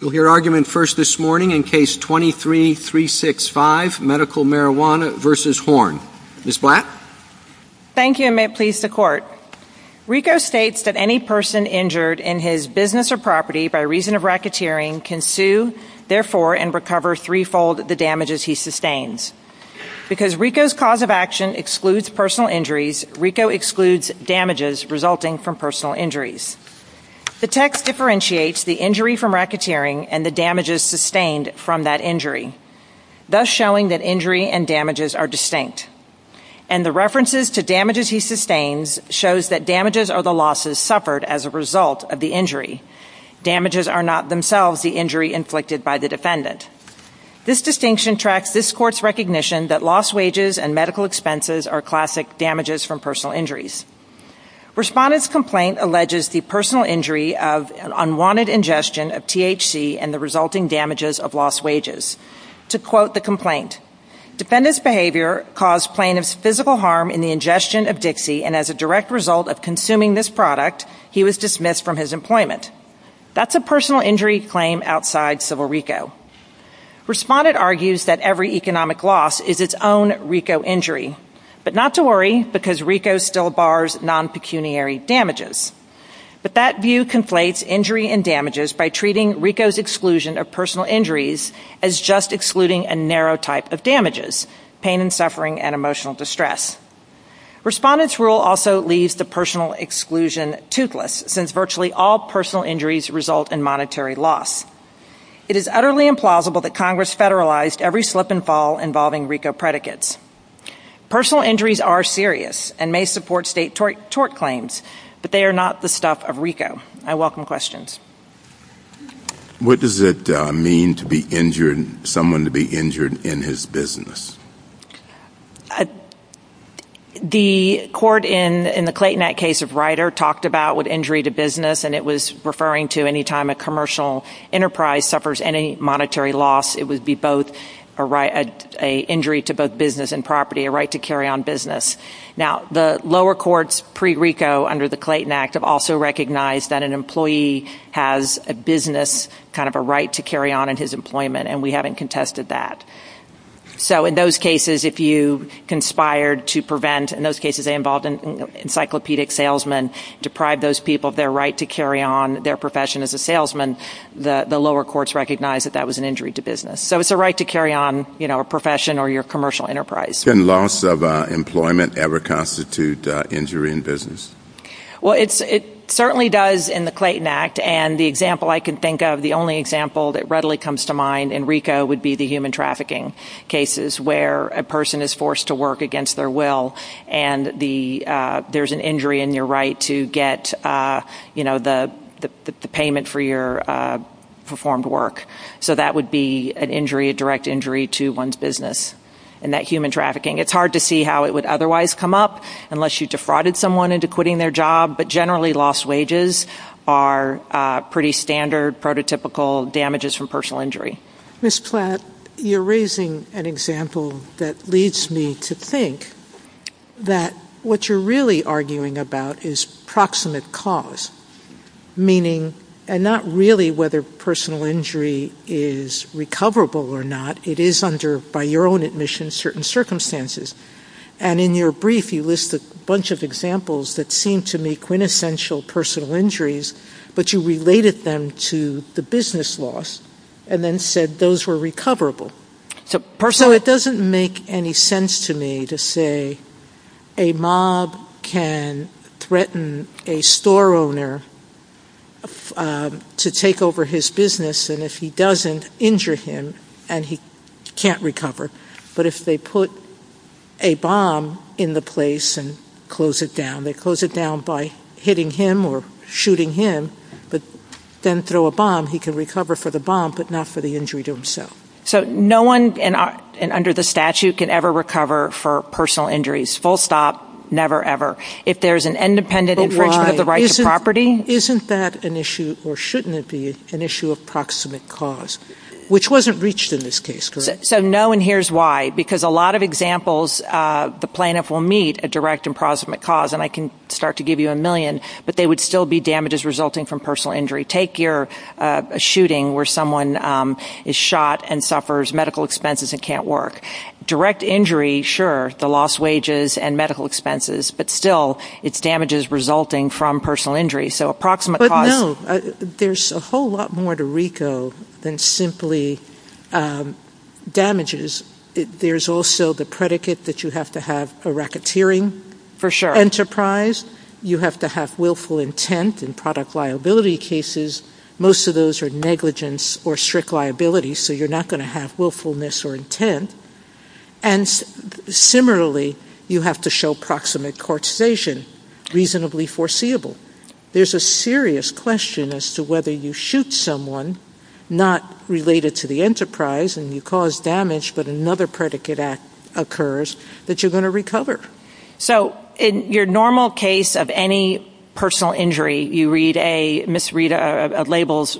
We'll hear argument first this morning in Case 23-365, Medical Marijuana v. Horn. Ms. Blatt. Thank you, and may it please the Court. RICO states that any person injured in his business or property by reason of racketeering can sue, therefore, and recover threefold the damages he sustains. Because RICO's cause of action excludes personal injuries, RICO excludes damages resulting from personal injuries. The text differentiates the injury from racketeering and the damages sustained from that injury, thus showing that injury and damages are distinct. And the references to damages he sustains shows that damages are the losses suffered as a result of the injury. Damages are not themselves the injury inflicted by the defendant. This distinction tracks this Court's recognition that lost wages and medical expenses are classic damages from personal injuries. Respondent's complaint alleges the personal injury of an unwanted ingestion of THC and the resulting damages of lost wages. To quote the complaint, Defendant's behavior caused plaintiff's physical harm in the ingestion of Dixie, and as a direct result of consuming this product, he was dismissed from his employment. That's a personal injury claim outside civil RICO. Respondent argues that every economic loss is its own RICO injury. But not to worry, because RICO still bars non-pecuniary damages. But that view conflates injury and damages by treating RICO's exclusion of personal injuries as just excluding a narrow type of damages, pain and suffering and emotional distress. Respondent's rule also leaves the personal exclusion toothless, since virtually all personal injuries result in monetary loss. It is utterly implausible that Congress federalized every slip and fall involving RICO predicates. Personal injuries are serious and may support state tort claims, but they are not the stuff of RICO. I welcome questions. What does it mean to be injured, someone to be injured in his business? The court in the Clayton Act case of Ryder talked about what injury to business and it was referring to any time a commercial enterprise suffers any monetary loss, it would be a injury to both business and property, a right to carry on business. Now the lower courts pre-RICO under the Clayton Act have also recognized that an employee has a business, kind of a right to carry on in his employment and we haven't contested that. So in those cases, if you conspired to prevent, in those cases they involved an encyclopedic salesman, deprive those people of their right to carry on their profession as a salesman, the lower courts recognized that that was an injury to business. So it's a right to carry on a profession or your commercial enterprise. Can loss of employment ever constitute injury in business? Well it certainly does in the Clayton Act and the example I can think of, the only example that readily comes to mind in RICO would be the human trafficking cases where a person is forced to work against their will and there's an injury in your right to get, you know, the payment for your performed work. So that would be an injury, a direct injury to one's business. And that human trafficking, it's hard to see how it would otherwise come up unless you defrauded someone into quitting their job, but generally lost wages are pretty standard, prototypical damages from personal injury. Ms. Platt, you're raising an example that leads me to think that what you're really arguing about is proximate cause, meaning, and not really whether personal injury is recoverable or not, it is under, by your own admission, certain circumstances. And in your brief you list a bunch of examples that seem to me quintessential personal injuries, but you related them to the business loss and then said those were recoverable. So it doesn't make any sense to me to say a mob can threaten a store owner to take over his business and if he doesn't, injure him and he can't recover. But if they put a bomb in the place and close it down, they close it down by hitting him or shooting him, but then throw a bomb, he can recover for the bomb, but not for the injury to himself. So no one under the statute can ever recover for personal injuries, full stop, never, ever. If there's an independent infringement of the right to property. Isn't that an issue or shouldn't it be an issue of proximate cause, which wasn't reached in this case, correct? So no one hears why, because a lot of examples, the plaintiff will meet a direct and proximate cause and I can start to give you a million, but they would still be damages resulting from personal injury. Take your shooting where someone is shot and suffers medical expenses and can't work. Direct injury, sure, the lost wages and medical expenses, but still it's damages resulting from personal injury. So approximate cause. But no, there's a whole lot more to RICO than simply damages. There's also the predicate that you have to have a racketeering. For sure. You have to have willful intent in product liability cases. Most of those are negligence or strict liability, so you're not going to have willfulness or And similarly, you have to show proximate causation, reasonably foreseeable. There's a serious question as to whether you shoot someone not related to the enterprise and you cause damage, but another predicate act occurs that you're going to recover. So in your normal case of any personal injury, you read labels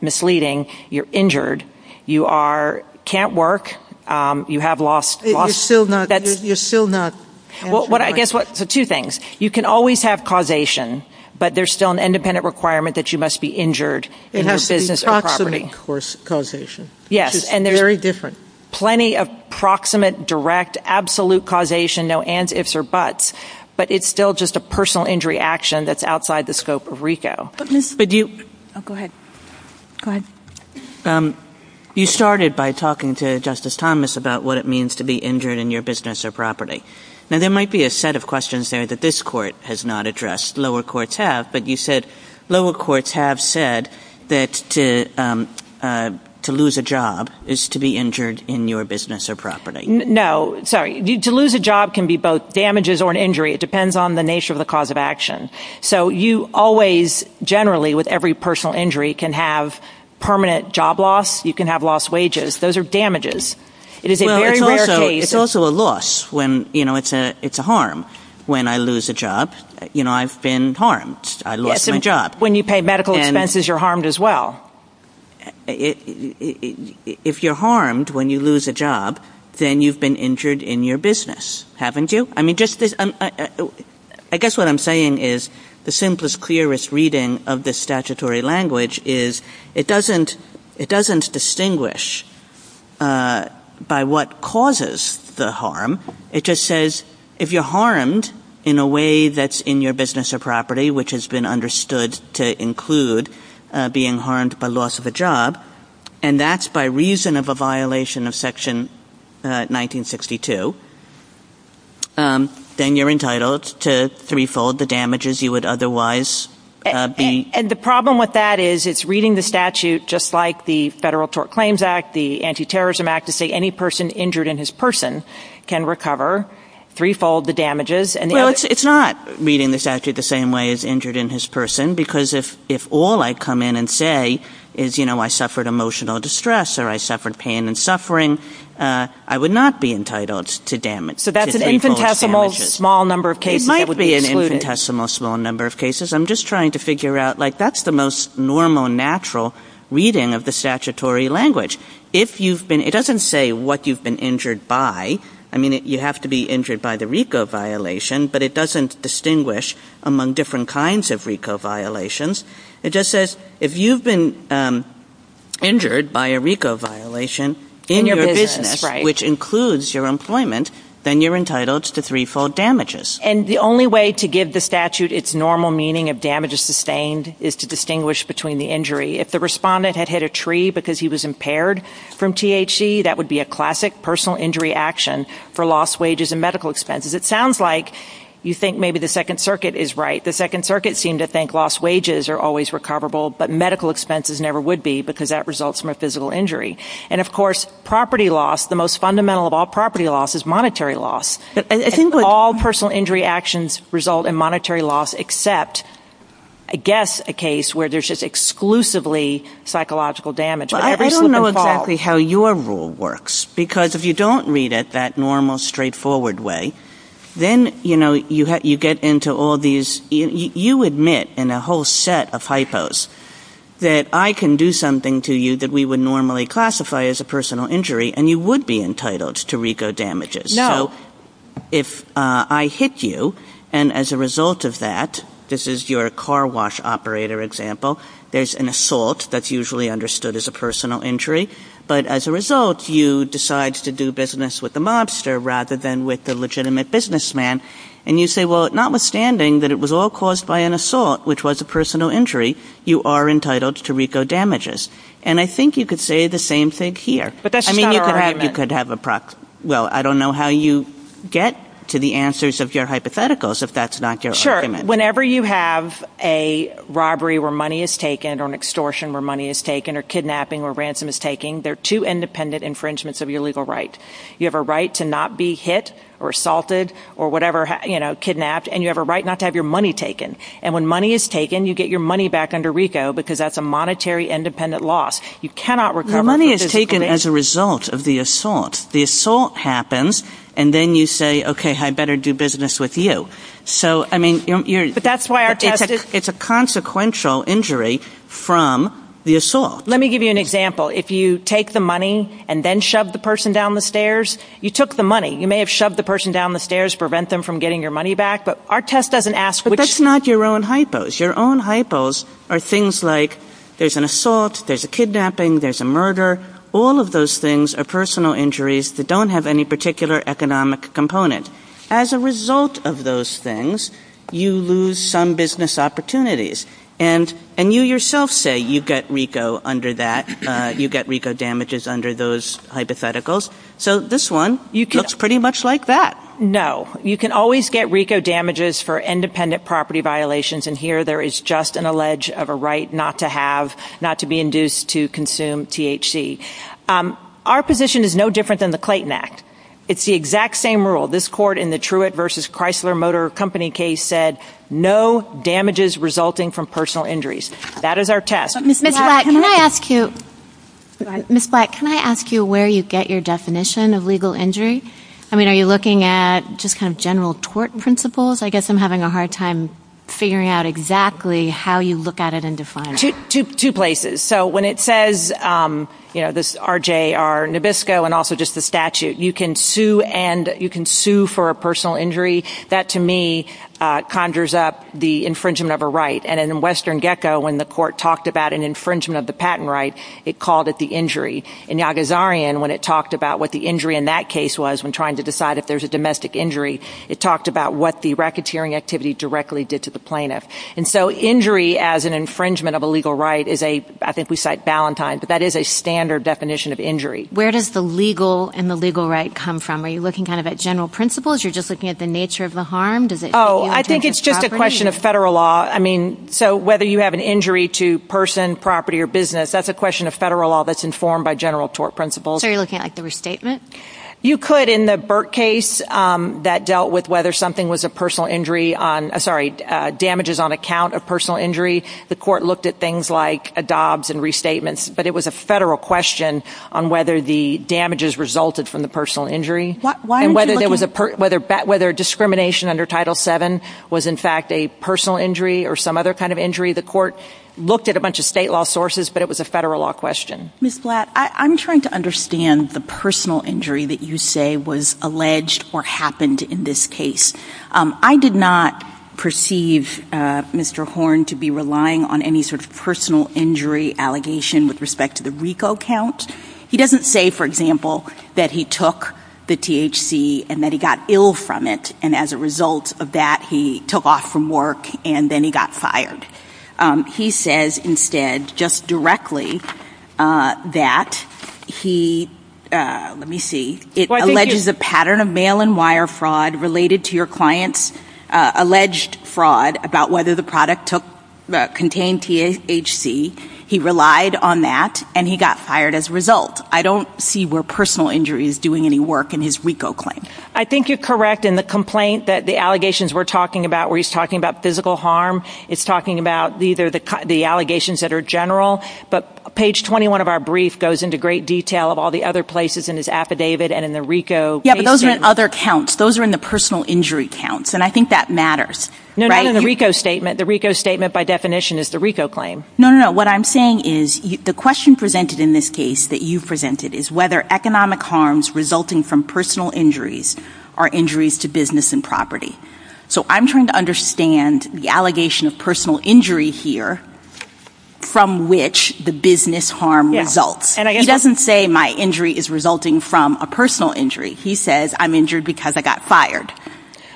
misleading, you're injured, you are, can't work, you have lost. You're still not. Well, I guess, so two things. You can always have causation, but there's still an independent requirement that you must be injured in your business or property. Yes, and there's plenty of proximate, direct, absolute causation, no ands, ifs, or buts, but it's still just a personal injury action that's outside the scope of RICO. You started by talking to Justice Thomas about what it means to be injured in your business or property. Now, there might be a set of questions there that this court has not addressed. Lower courts have, but you said lower courts have said that to lose a job is to be injured in your business or property. No, sorry. To lose a job can be both damages or an injury. It depends on the nature of the cause of action. So you always, generally, with every personal injury, can have permanent job loss. You can have lost wages. Those are damages. It is a very rare case. Well, it's also a loss when, you know, it's a harm when I lose a job. You know, I've been harmed. I lost my job. When you pay medical expenses, you're harmed as well. If you're harmed when you lose a job, then you've been injured in your business, haven't you? I mean, just this, I guess what I'm saying is the simplest, clearest reading of this statutory language is it doesn't distinguish by what causes the harm. It just says if you're harmed in a way that's in your business or property, which has been understood to include being harmed by loss of a job, and that's by reason of a violation of section 1962, then you're entitled to threefold the damages you would otherwise be. And the problem with that is it's reading the statute, just like the Federal Tort Claims Act, the Anti-Terrorism Act, to say any person injured in his person can recover threefold the damages. Well, it's not reading the statute the same way as injured in his person, because if all I come in and say is, you know, I suffered emotional distress or I suffered pain and suffering, I would not be entitled to damages. So that's an infinitesimal small number of cases that would be excluded. It might be an infinitesimal small number of cases. I'm just trying to figure out, like, that's the most normal, natural reading of the statutory language. If you've been – it doesn't say what you've been injured by. I mean, you have to be injured by the RICO violation, but it doesn't distinguish among different kinds of RICO violations. It just says if you've been injured by a RICO violation in your business, which includes your employment, then you're entitled to threefold damages. And the only way to give the statute its normal meaning of damages sustained is to distinguish between the injury. If the respondent had hit a tree because he was impaired from THC, that would be a classic personal injury action for lost wages and medical expenses. It sounds like you think maybe the Second Circuit is right. The Second Circuit seemed to think lost wages are always recoverable, but medical expenses never would be, because that results from a physical injury. And of course, property loss, the most fundamental of all property loss is monetary loss. All personal injury actions result in monetary loss except, I guess, a case where there's exclusively psychological damage. But I don't know exactly how your rule works, because if you don't read it that normal, straightforward way, then, you know, you get into all these. You admit in a whole set of hypos that I can do something to you that we would normally classify as a personal injury, and you would be entitled to RICO damages. No. So if I hit you, and as a result of that, this is your car wash operator example, there's an assault that's usually understood as a personal injury, but as a result, you decide to do business with the mobster rather than with the legitimate businessman. And you say, well, notwithstanding that it was all caused by an assault, which was a personal injury, you are entitled to RICO damages. And I think you could say the same thing here. But that's not our argument. Well, I don't know how you get to the answers of your hypotheticals, if that's not your argument. Whenever you have a robbery where money is taken, or an extortion where money is taken, or kidnapping where ransom is taken, there are two independent infringements of your legal right. You have a right to not be hit, or assaulted, or whatever, you know, kidnapped. And you have a right not to have your money taken. And when money is taken, you get your money back under RICO, because that's a monetary independent loss. Your money is taken as a result of the assault. The assault happens, and then you say, okay, I better do business with you. So I mean, it's a consequential injury from the assault. Let me give you an example. If you take the money and then shove the person down the stairs, you took the money. You may have shoved the person down the stairs to prevent them from getting your money back, but our test doesn't ask which- But that's not your own hypos. Your own hypos are things like, there's an assault, there's a kidnapping, there's a murder. All of those things are personal injuries that don't have any particular economic component. As a result of those things, you lose some business opportunities. And you yourself say you get RICO under that, you get RICO damages under those hypotheticals. So this one looks pretty much like that. No. You can always get RICO damages for independent property violations. And here there is just an allege of a right not to have, not to be induced to consume THC. Our position is no different than the Clayton Act. It's the exact same rule. This court in the Truett versus Chrysler Motor Company case said, no damages resulting from personal injuries. That is our test. Ms. Black, can I ask you- Go ahead. Ms. Black, can I ask you where you get your definition of legal injury? I mean, are you looking at just kind of general tort principles? I guess I'm having a hard time figuring out exactly how you look at it and define it. Two places. So when it says, you know, this RJR Nabisco and also just the statute, you can sue for a personal injury. That to me conjures up the infringement of a right. And in Western Gecko, when the court talked about an infringement of the patent right, it called it the injury. In Yagazarian, when it talked about what the injury in that case was, when trying to decide if there's a domestic injury, it talked about what the racketeering activity directly did to the plaintiff. And so injury as an infringement of a legal right is a, I think we cite Ballantyne, but that is a standard definition of injury. Where does the legal and the legal right come from? Are you looking kind of at general principles? You're just looking at the nature of the harm? Does it- I think it's just a question of federal law. I mean, so whether you have an injury to person, property, or business, that's a question of federal law that's informed by general tort principles. So you're looking at the restatement? You could in the Burt case that dealt with whether something was a personal injury on, sorry, damages on account of personal injury. The court looked at things like a dobs and restatements, but it was a federal question on whether the damages resulted from the personal injury. Why aren't you looking- Whether discrimination under Title VII was in fact a personal injury or some other kind of injury. The court looked at a bunch of state law sources, but it was a federal law question. Ms. Blatt, I'm trying to understand the personal injury that you say was alleged or happened in this case. I did not perceive Mr. Horn to be relying on any sort of personal injury allegation with respect to the RICO count. He doesn't say, for example, that he took the THC and that he got ill from it. And as a result of that, he took off from work and then he got fired. He says instead, just directly, that he, let me see. It alleges a pattern of mail and wire fraud related to your client's alleged fraud about whether the product contained THC. He relied on that and he got fired as a result. I don't see where personal injury is doing any work in his RICO claim. I think you're correct in the complaint that the allegations we're talking about, where he's talking about physical harm. It's talking about either the allegations that are general. But page 21 of our brief goes into great detail of all the other places in his affidavit and in the RICO case statement. Yeah, but those are in other counts. Those are in the personal injury counts, and I think that matters. No, not in the RICO statement. The RICO statement, by definition, is the RICO claim. No, no, no. What I'm saying is, the question presented in this case that you presented is whether economic harms resulting from personal injuries are injuries to business and property. So I'm trying to understand the allegation of personal injury here from which the business harm results. He doesn't say my injury is resulting from a personal injury. He says I'm injured because I got fired.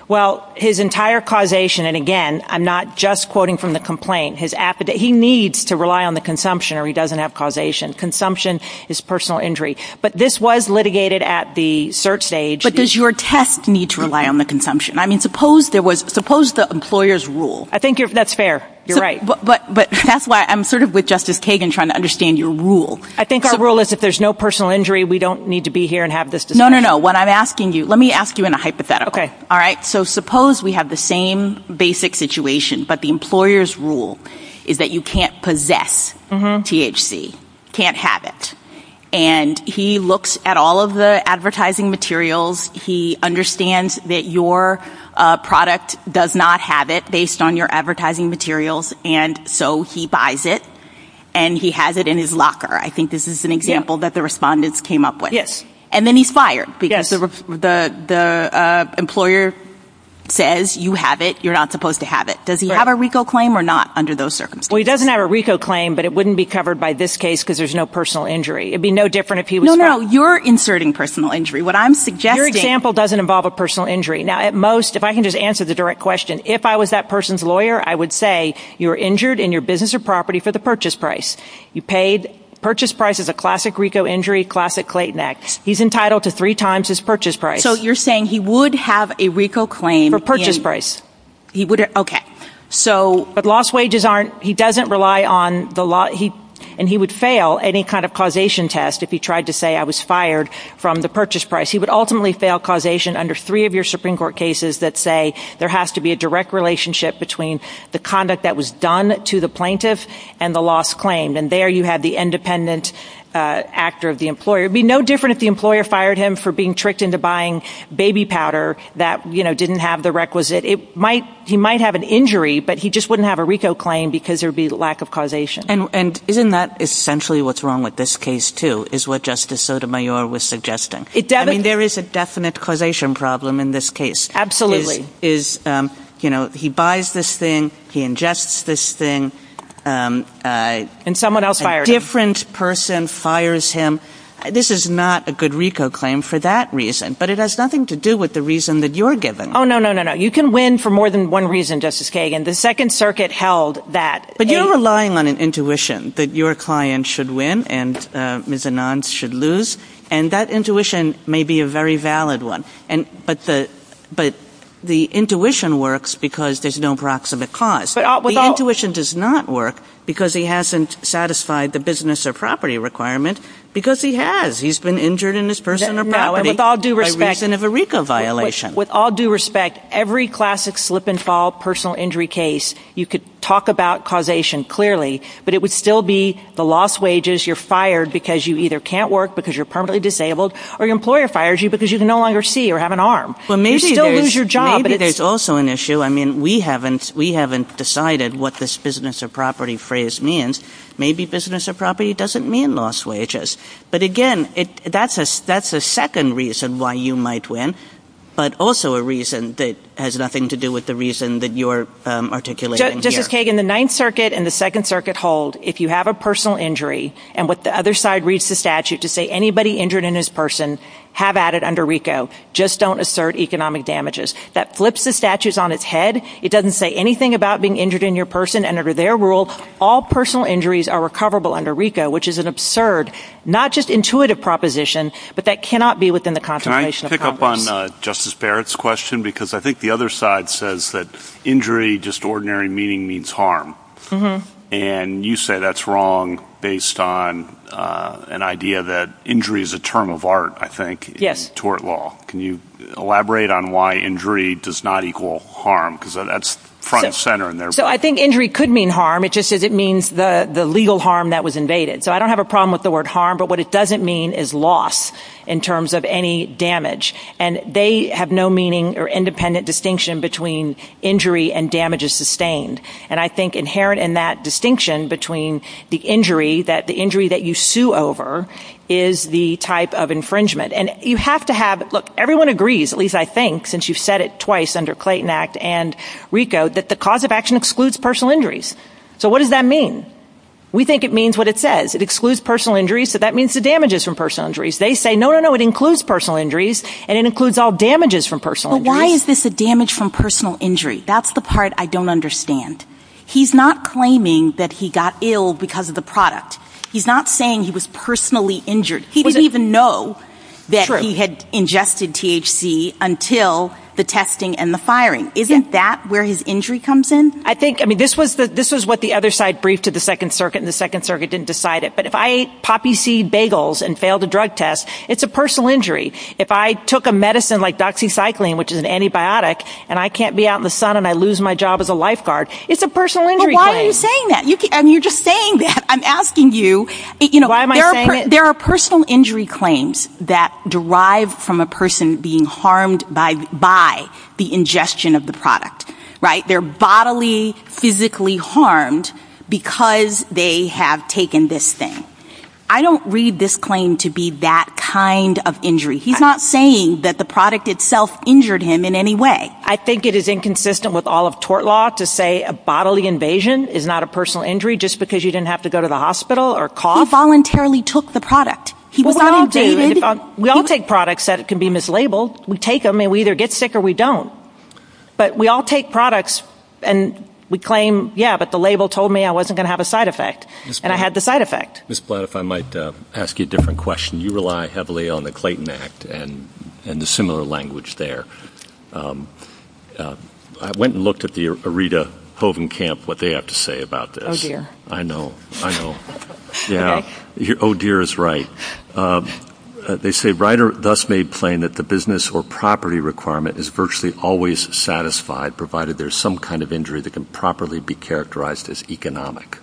Well, his entire causation, and again, I'm not just quoting from the complaint. His affidavit, he needs to rely on the consumption or he doesn't have causation. Consumption is personal injury. But this was litigated at the cert stage. But does your test need to rely on the consumption? I mean, suppose there was, suppose the employer's rule. I think that's fair. You're right. But that's why I'm sort of with Justice Kagan trying to understand your rule. I think our rule is if there's no personal injury, we don't need to be here and have this discussion. No, no, no. What I'm asking you, let me ask you in a hypothetical. Okay. All right. So suppose we have the same basic situation, but the employer's rule is that you can't possess THC. Can't have it. And he looks at all of the advertising materials. He understands that your product does not have it based on your advertising materials. And so he buys it and he has it in his locker. I think this is an example that the respondents came up with. Yes. And then he's fired because the employer says you have it, you're not supposed to have it. Does he have a RICO claim or not under those circumstances? Well, he doesn't have a RICO claim, but it wouldn't be covered by this case because there's no personal injury. It'd be no different if he was fired. No, no. You're inserting personal injury. What I'm suggesting... Your example doesn't involve a personal injury. Now, at most, if I can just answer the direct question, if I was that person's lawyer, I would say you were injured in your business or property for the purchase price. You paid... Purchase price is a classic RICO injury, classic Clayton Act. He's entitled to three times his purchase price. So you're saying he would have a RICO claim... For purchase price. He would... Okay. So... But lost wages aren't... He doesn't rely on the law... And he would fail any kind of causation test if he tried to say I was fired from the purchase price. He would ultimately fail causation under three of your Supreme Court cases that say there has to be a direct relationship between the conduct that was done to the plaintiff and the lost claim. And there you have the independent actor of the employer. It'd be no different if the employer fired him for being tricked into buying baby powder that didn't have the requisite. He might have an injury, but he just wouldn't have a RICO claim because there'd be lack of causation. And isn't that essentially what's wrong with this case, too, is what Justice Sotomayor was suggesting? I mean, there is a definite causation problem in this case. Absolutely. Is, you know, he buys this thing, he ingests this thing... And someone else fired him. A different person fires him. This is not a good RICO claim for that reason, but it has nothing to do with the reason that you're given. Oh, no, no, no, no. You can win for more than one reason, Justice Kagan. The Second Circuit held that... But you're relying on an intuition that your client should win and Ms. Anand's should lose. And that intuition may be a very valid one, but the intuition works because there's no proximate cause. The intuition does not work because he hasn't satisfied the business or property requirement because he has. He's been injured in his personal property by reason of a RICO violation. With all due respect, every classic slip and fall personal injury case, you could talk about causation clearly, but it would still be the lost wages, you're fired because you either can't work because you're permanently disabled, or your employer fires you because you can no longer see or have an arm. You still lose your job. Maybe there's also an issue. I mean, we haven't decided what this business or property phrase means. Maybe business or property doesn't mean lost wages. But again, that's a second reason why you might win. But also a reason that has nothing to do with the reason that you're articulating here. Justice Kagan, the Ninth Circuit and the Second Circuit hold if you have a personal injury, and what the other side reads the statute to say anybody injured in his person have added under RICO, just don't assert economic damages. That flips the statutes on its head. It doesn't say anything about being injured in your person. And under their rule, all personal injuries are recoverable under RICO, which is an absurd, not just intuitive proposition, but that cannot be within the contemplation of Congress. Can I pick up on Justice Barrett's question? Because I think the other side says that injury, just ordinary meaning, means harm. And you say that's wrong based on an idea that injury is a term of art, I think, in tort law. Can you elaborate on why injury does not equal harm? Because that's front and center in there. So I think injury could mean harm. It just says it means the legal harm that was invaded. So I don't have a problem with the word harm. But what it doesn't mean is loss in terms of any damage. And they have no meaning or independent distinction between injury and damages sustained. And I think inherent in that distinction between the injury that you sue over is the type of infringement. And you have to have, look, everyone agrees, at least I think, since you've said it twice under Clayton Act and RICO, that the cause of action excludes personal injuries. So what does that mean? We think it means what it says. It excludes personal injuries. So that means the damages from personal injuries. They say, no, no, no, it includes personal injuries. And it includes all damages from personal injuries. But why is this a damage from personal injury? That's the part I don't understand. He's not claiming that he got ill because of the product. He's not saying he was personally injured. He didn't even know that he had ingested THC until the testing and the firing. Isn't that where his injury comes in? I think, I mean, this was what the other side briefed to the Second Circuit. And the Second Circuit didn't decide it. But if I ate poppy seed bagels and failed a drug test, it's a personal injury. If I took a medicine like doxycycline, which is an antibiotic, and I can't be out in the sun and I lose my job as a lifeguard, it's a personal injury claim. But why are you saying that? I mean, you're just saying that. I'm asking you. Why am I saying it? There are personal injury claims that derive from a person being harmed by the ingestion of the product. Right? And they're bodily, physically harmed because they have taken this thing. I don't read this claim to be that kind of injury. He's not saying that the product itself injured him in any way. I think it is inconsistent with all of tort law to say a bodily invasion is not a personal injury just because you didn't have to go to the hospital or cough. He voluntarily took the product. He was not invaded. We all take products that can be mislabeled. We take them and we either get sick or we don't. But we all take products and we claim, yeah, but the label told me I wasn't going to have a side effect. And I had the side effect. Ms. Blatt, if I might ask you a different question. You rely heavily on the Clayton Act and the similar language there. I went and looked at the Aretha Hoven camp, what they have to say about this. I know. I know. Yeah. Oh, dear is right. They say Ryder thus made plain that the business or property requirement is virtually always satisfied provided there's some kind of injury that can properly be characterized as economic.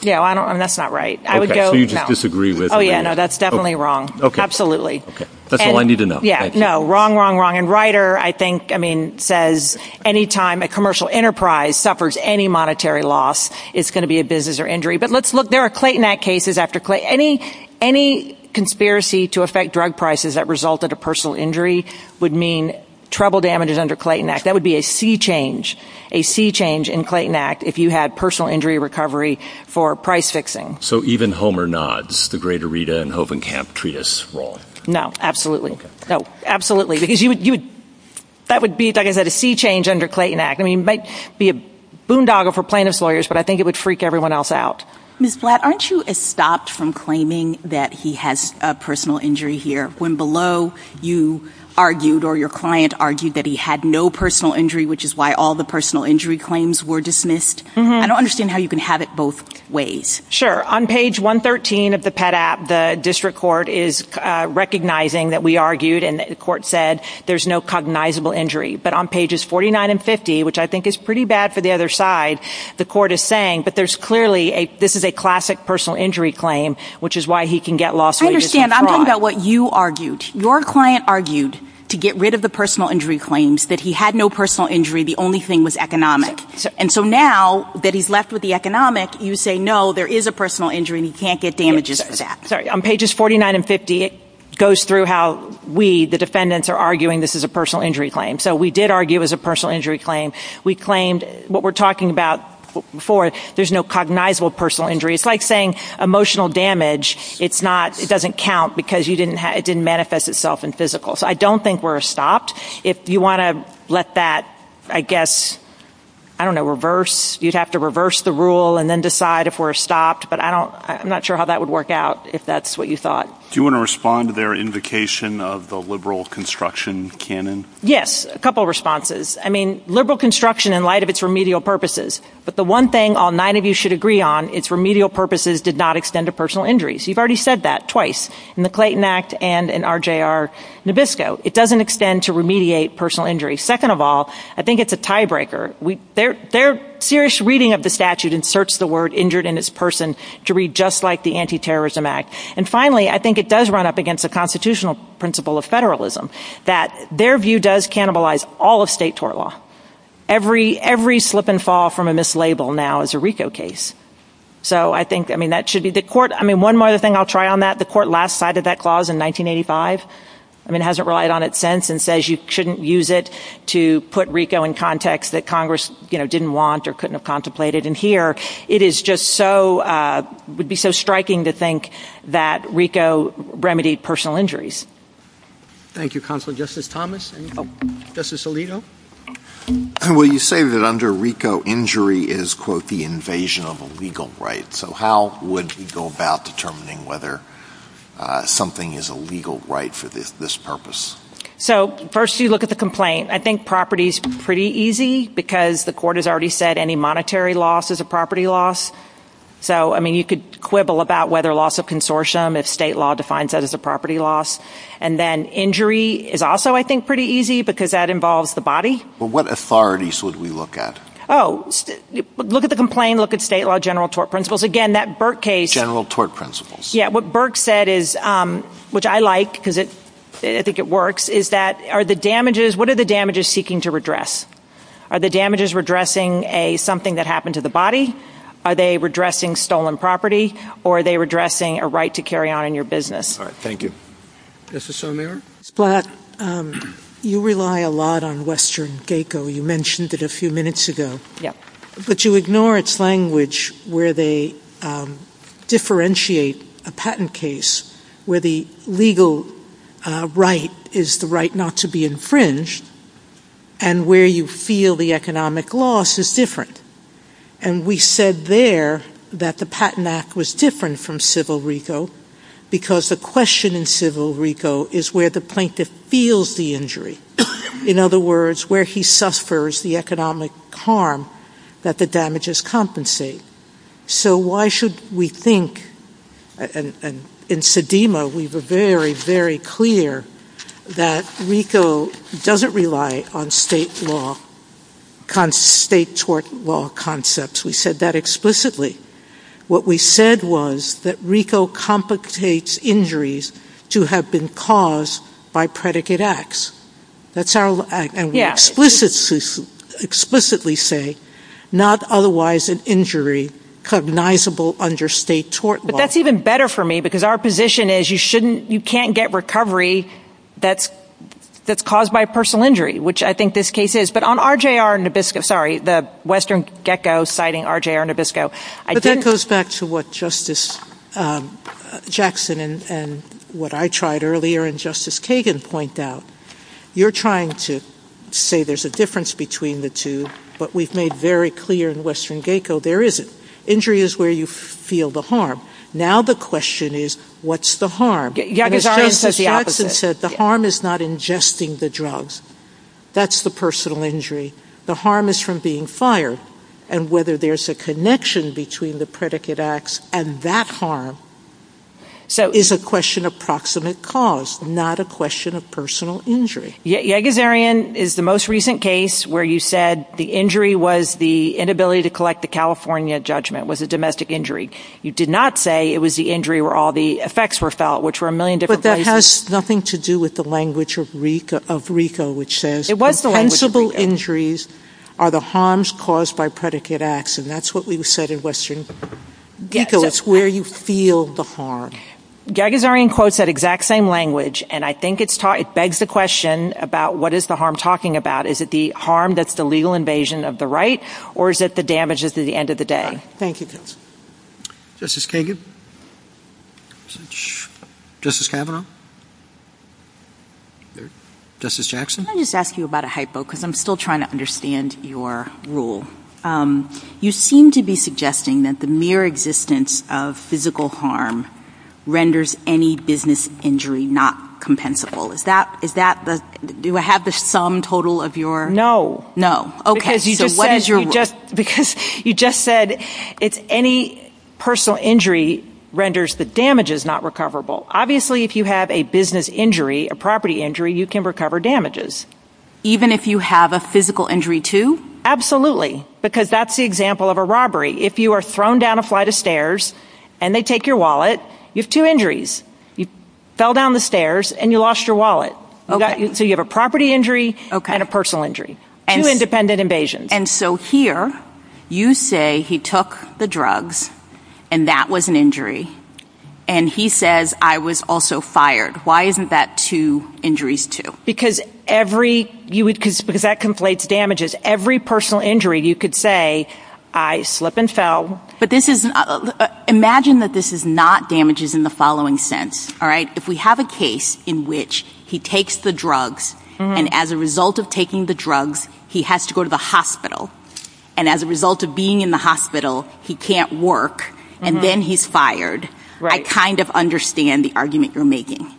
Yeah, I don't know. That's not right. I would go. So you just disagree with. Oh, yeah. No, that's definitely wrong. OK. OK. That's all I need to know. Yeah. No. Wrong, wrong, wrong. And Ryder, I think, I mean, says any time a commercial enterprise suffers any monetary loss, it's going to be a business or injury. But let's look. There are Clayton Act cases after Clayton, any any conspiracy to affect drug prices that resulted a personal injury would mean trouble damages under Clayton Act. That would be a sea change, a sea change in Clayton Act. If you had personal injury recovery for price fixing. So even Homer nods the greater Rita and Hoven camp treatise role. No, absolutely. No, absolutely. Because you would you would that would be, like I said, a sea change under Clayton Act. I mean, it might be a boondoggle for plaintiff's lawyers, but I think it would freak everyone else out. Ms. Blatt, aren't you stopped from claiming that he has a personal injury here when below you argued or your client argued that he had no personal injury, which is why all the personal injury claims were dismissed? I don't understand how you can have it both ways. Sure. On page 113 of the pet app, the district court is recognizing that we argued and the court said there's no cognizable injury. But on pages 49 and 50, which I think is pretty bad for the other side, the court is saying. But there's clearly a this is a classic personal injury claim, which is why he can get lost. I understand. I'm talking about what you argued. Your client argued to get rid of the personal injury claims that he had no personal injury. The only thing was economic. And so now that he's left with the economic, you say, no, there is a personal injury and he can't get damages. That's right. On pages 49 and 50, it goes through how we the defendants are arguing this is a personal injury claim. So we did argue as a personal injury claim. We claimed what we're talking about before. There's no cognizable personal injury. It's like saying emotional damage. It's not it doesn't count because you didn't it didn't manifest itself in physical. So I don't think we're stopped. If you want to let that, I guess, I don't know, reverse. You'd have to reverse the rule and then decide if we're stopped. But I don't I'm not sure how that would work out. If that's what you thought. Do you want to respond to their invocation of the liberal construction canon? Yes. A couple responses. I mean, liberal construction in light of its remedial purposes. But the one thing all nine of you should agree on its remedial purposes did not extend to personal injuries. You've already said that twice in the Clayton Act and in RJR Nabisco. It doesn't extend to remediate personal injury. Second of all, I think it's a tiebreaker. Their serious reading of the statute inserts the word injured in its person to read just like the Anti-Terrorism Act. And finally, I think it does run up against a constitutional principle of federalism that their view does cannibalize all of state tort law. Every every slip and fall from a mislabel now is a RICO case. So I think, I mean, that should be the court. I mean, one more thing I'll try on that. The court last cited that clause in 1985, I mean, hasn't relied on it since and says you shouldn't use it to put RICO in context that Congress, you know, didn't want or couldn't have contemplated. And here it is just so would be so striking to think that RICO remedied personal injuries. Thank you, Counselor. Justice Thomas. Justice Alito. Well, you say that under RICO injury is, quote, the invasion of a legal right. So how would we go about determining whether something is a legal right for this purpose? So first you look at the complaint. I think property is pretty easy because the court has already said any monetary loss is a property loss. So I mean, you could quibble about whether loss of consortium, if state law defines that as a property loss, and then injury is also, I think, pretty easy because that involves the body. But what authorities would we look at? Oh, look at the complaint. Look at state law, general tort principles. Again, that Burke case. General tort principles. Yeah. What Burke said is, which I like because it, I think it works, is that are the damages, what are the damages seeking to redress? Are the damages redressing a something that happened to the body? Are they redressing stolen property or are they redressing a right to carry on in your business? All right. Thank you. Justice O'Meara? Ms. Black, you rely a lot on Western GACO. You mentioned it a few minutes ago. Yeah. But you ignore its language where they differentiate a patent case where the legal right is the right not to be infringed and where you feel the economic loss is different. And we said there that the patent act was different from civil RICO because the question in civil RICO is where the plaintiff feels the injury. In other words, where he suffers the economic harm that the damages compensate. So why should we think, and in Sedema, we were very, very clear that RICO doesn't rely on state law, state tort law concepts. We said that explicitly. What we said was that RICO compensates injuries to have been caused by predicate acts. That's our, and we explicitly say not otherwise an injury cognizable under state tort law. But that's even better for me because our position is you shouldn't, you can't get recovery that's caused by personal injury, which I think this case is. But on RJR Nabisco, sorry, the Western GACO citing RJR Nabisco, I didn't. But that goes back to what Justice Jackson and what I tried earlier and Justice Kagan point out. You're trying to say there's a difference between the two, but we've made very clear in Western GACO there isn't. Injury is where you feel the harm. Now the question is, what's the harm? And as Justice Jackson said, the harm is not ingesting the drugs. That's the personal injury. The harm is from being fired. And whether there's a connection between the predicate acts and that harm is a question of proximate cause, not a question of personal injury. Yagazarian is the most recent case where you said the injury was the inability to collect the California judgment, was a domestic injury. You did not say it was the injury where all the effects were felt, which were a million different places. But that has nothing to do with the language of RICO, which says, It was the language of RICO.... impensable injuries are the harms caused by predicate acts, and that's what we said in Western GACO. It's where you feel the harm. Yagazarian quotes that exact same language, and I think it begs the question about what is the harm talking about? Is it the harm that's the legal invasion of the right, or is it the damages at the end of the day? Thank you, counsel. Justice Kagan? Justice Kavanaugh? Justice Jackson? Can I just ask you about a hypo? Because I'm still trying to understand your rule. You seem to be suggesting that the mere existence of physical harm renders any business injury not compensable. Is that, do I have the sum total of your... No. No. Okay. Okay. So what is your... Because you just said it's any personal injury renders the damages not recoverable. Obviously, if you have a business injury, a property injury, you can recover damages. Even if you have a physical injury too? Absolutely. Because that's the example of a robbery. If you are thrown down a flight of stairs, and they take your wallet, you have two injuries. You fell down the stairs, and you lost your wallet. Okay. So you have a property injury and a personal injury. Okay. Two independent invasions. And so here, you say he took the drugs, and that was an injury. And he says, I was also fired. Why isn't that two injuries too? Because every, because that conflates damages. Every personal injury, you could say, I slip and fell. But this is, imagine that this is not damages in the following sense, all right? If we have a case in which he takes the drugs, and as a result of taking the drugs, he has to go to the hospital. And as a result of being in the hospital, he can't work, and then he's fired, I kind of understand the argument you're making.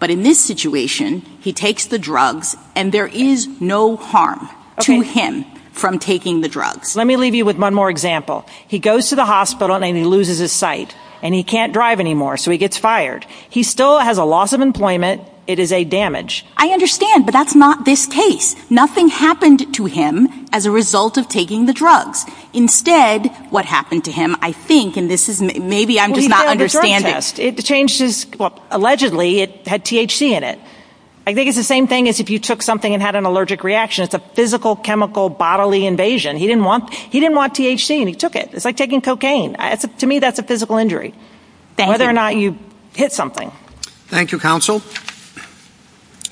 But in this situation, he takes the drugs, and there is no harm to him from taking the Let me leave you with one more example. He goes to the hospital, and then he loses his sight. And he can't drive anymore, so he gets fired. He still has a loss of employment. It is a damage. I understand, but that's not this case. Nothing happened to him as a result of taking the drugs. Instead, what happened to him, I think, and this is, maybe I'm just not understanding. It changed his, well, allegedly, it had THC in it. I think it's the same thing as if you took something and had an allergic reaction. It's a physical, chemical, bodily invasion. He didn't want THC, and he took it. It's like taking cocaine. To me, that's a physical injury. Whether or not you hit something. Thank you, Counsel.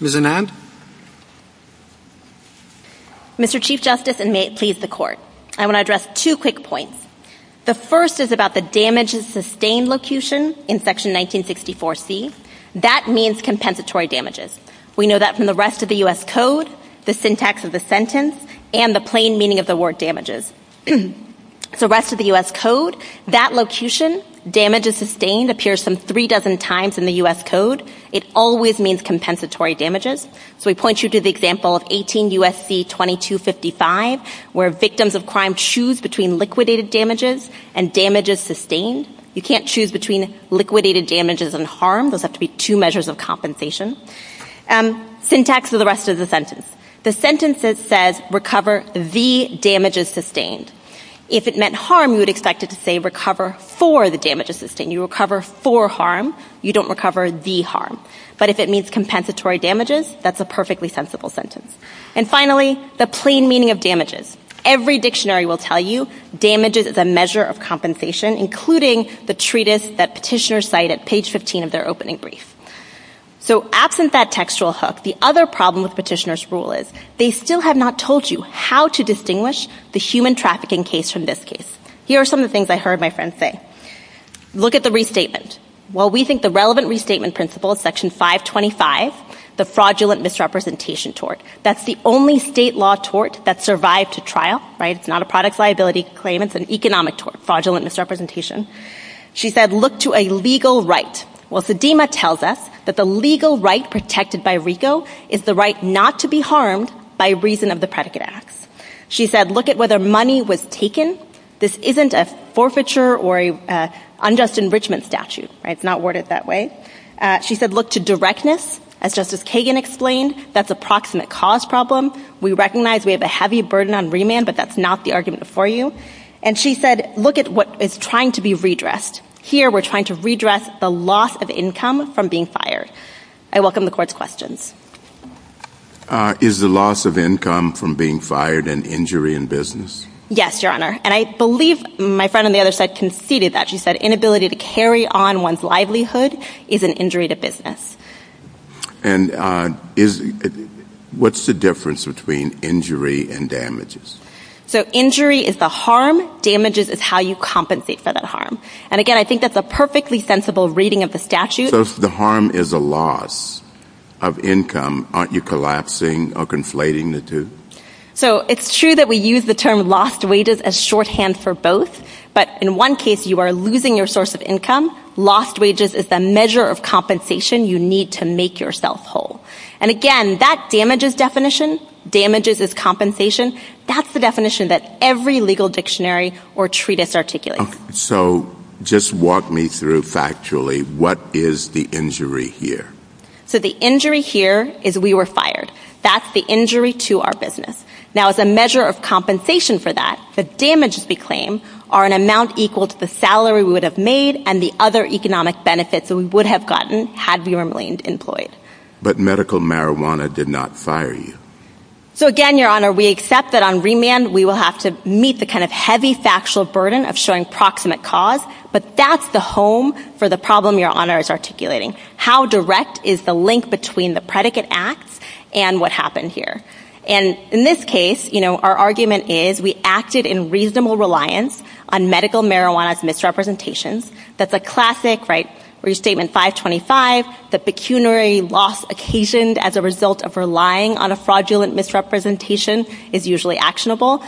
Ms. Anand. Mr. Chief Justice, and may it please the Court, I want to address two quick points. The first is about the damages sustained locution in Section 1964C. That means compensatory damages. We know that from the rest of the U.S. Code, the syntax of the sentence, and the plain meaning of the word damages. The rest of the U.S. Code, that locution, damages sustained, appears some three dozen times in the U.S. Code. It always means compensatory damages. So we point you to the example of 18 U.S.C. 2255, where victims of crime choose between liquidated damages and damages sustained. You can't choose between liquidated damages and harm. Those have to be two measures of compensation. Syntax of the rest of the sentence. The sentence says recover the damages sustained. If it meant harm, you would expect it to say recover for the damages sustained. You recover for harm. You don't recover the harm. But if it means compensatory damages, that's a perfectly sensible sentence. And finally, the plain meaning of damages. Every dictionary will tell you damages is a measure of compensation, including the treatise that petitioners cite at page 15 of their opening brief. So absent that textual hook, the other problem with petitioners' rule is they still have not told you how to distinguish the human trafficking case from this case. Here are some of the things I heard my friend say. Look at the restatement. Well, we think the relevant restatement principle is section 525, the fraudulent misrepresentation tort. That's the only state law tort that survived to trial, right? It's not a product liability claim. It's an economic tort, fraudulent misrepresentation. She said look to a legal right. Well, Sedema tells us that the legal right protected by RICO is the right not to be harmed by reason of the predicate acts. She said look at whether money was taken. This isn't a forfeiture or an unjust enrichment statute, right? It's not worded that way. She said look to directness, as Justice Kagan explained. That's a proximate cause problem. We recognize we have a heavy burden on remand, but that's not the argument for you. And she said look at what is trying to be redressed. Here we're trying to redress the loss of income from being fired. I welcome the court's questions. Is the loss of income from being fired an injury in business? Yes, your honor. And I believe my friend on the other side conceded that. She said inability to carry on one's livelihood is an injury to business. And what's the difference between injury and damages? So injury is the harm, damages is how you compensate for that harm. And again, I think that's a perfectly sensible reading of the statute. So if the harm is a loss of income, aren't you collapsing or conflating the two? So it's true that we use the term lost wages as shorthand for both, but in one case you are losing your source of income, lost wages is the measure of compensation you need to make yourself whole. And again, that damages definition, damages is compensation, that's the definition that every legal dictionary or treatise articulates. So just walk me through factually, what is the injury here? So the injury here is we were fired. That's the injury to our business. Now as a measure of compensation for that, the damages we claim are an amount equal to the salary we would have made and the other economic benefits that we would have gotten had we remained employed. But medical marijuana did not fire you. So again, your honor, we accept that on remand we will have to meet the kind of heavy factual burden of showing proximate cause, but that's the home for the problem your honor is articulating. How direct is the link between the predicate acts and what happened here? And in this case, you know, our argument is we acted in reasonable reliance on medical marijuana's misrepresentations, that's a classic, right, restatement 525, the pecuniary loss occasioned as a result of relying on a fraudulent misrepresentation is usually actionable.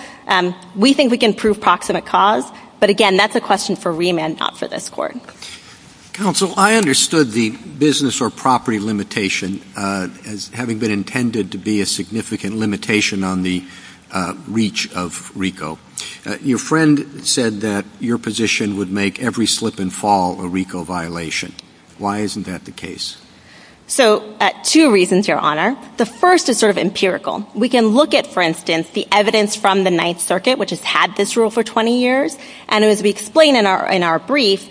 We think we can prove proximate cause, but again, that's a question for remand, not for this court. Counsel, I understood the business or property limitation as having been intended to be a significant limitation on the reach of RICO. Your friend said that your position would make every slip and fall a RICO violation. Why isn't that the case? So two reasons, your honor. The first is sort of empirical. We can look at, for instance, the evidence from the Ninth Circuit, which has had this rule for 20 years, and as we explain in our brief,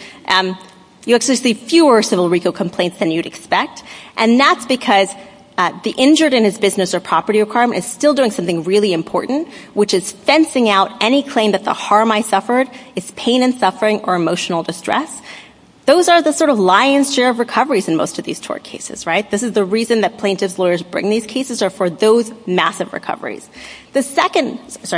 you actually see fewer civil RICO complaints than you'd expect, and that's because the injured in his business or property or crime is still doing something really important, which is fencing out any claim that the harm I suffered is pain and suffering or emotional distress. Those are the sort of lion's share of recoveries in most of these tort cases, right? This is the reason that plaintiff's lawyers bring these cases are for those massive recoveries. The second point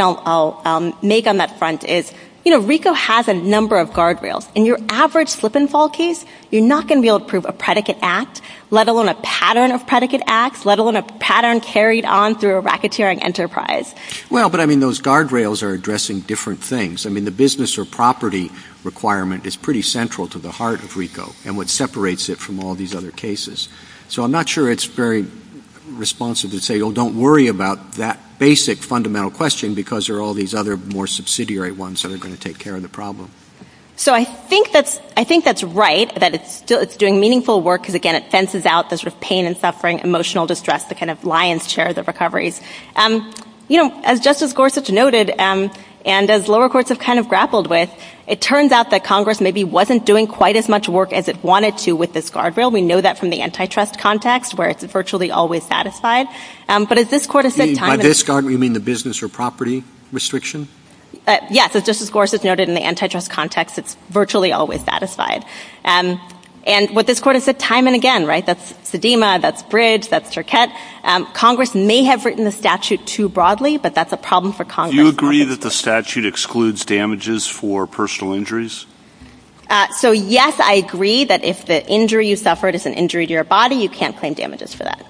I'll make on that front is, you know, RICO has a number of guardrails. In your average slip and fall case, you're not going to be able to prove a predicate act, let alone a pattern of predicate acts, let alone a pattern carried on through a racketeering enterprise. Well, but I mean, those guardrails are addressing different things. I mean, the business or property requirement is pretty central to the heart of RICO and what separates it from all these other cases. So I'm not sure it's very responsive to say, oh, don't worry about that basic fundamental question because there are all these other more subsidiary ones that are going to take care of the problem. So I think that's right, that it's doing meaningful work because, again, it fences out the sort of pain and suffering, emotional distress, the kind of lion's share of the recoveries. You know, as Justice Gorsuch noted, and as lower courts have kind of grappled with, it turns out that Congress maybe wasn't doing quite as much work as it wanted to with this guardrail. We know that from the antitrust context where it's virtually always satisfied. But as this Court has said time and again... By this guardrail, you mean the business or property restriction? Yes. As Justice Gorsuch noted, in the antitrust context, it's virtually always satisfied. And what this Court has said time and again, right, that's Sedema, that's Bridge, that's Arquette, Congress may have written the statute too broadly, but that's a problem for Congress. Do you agree that the statute excludes damages for personal injuries? So yes, I agree that if the injury you suffered is an injury to your body, you can't claim damages for that.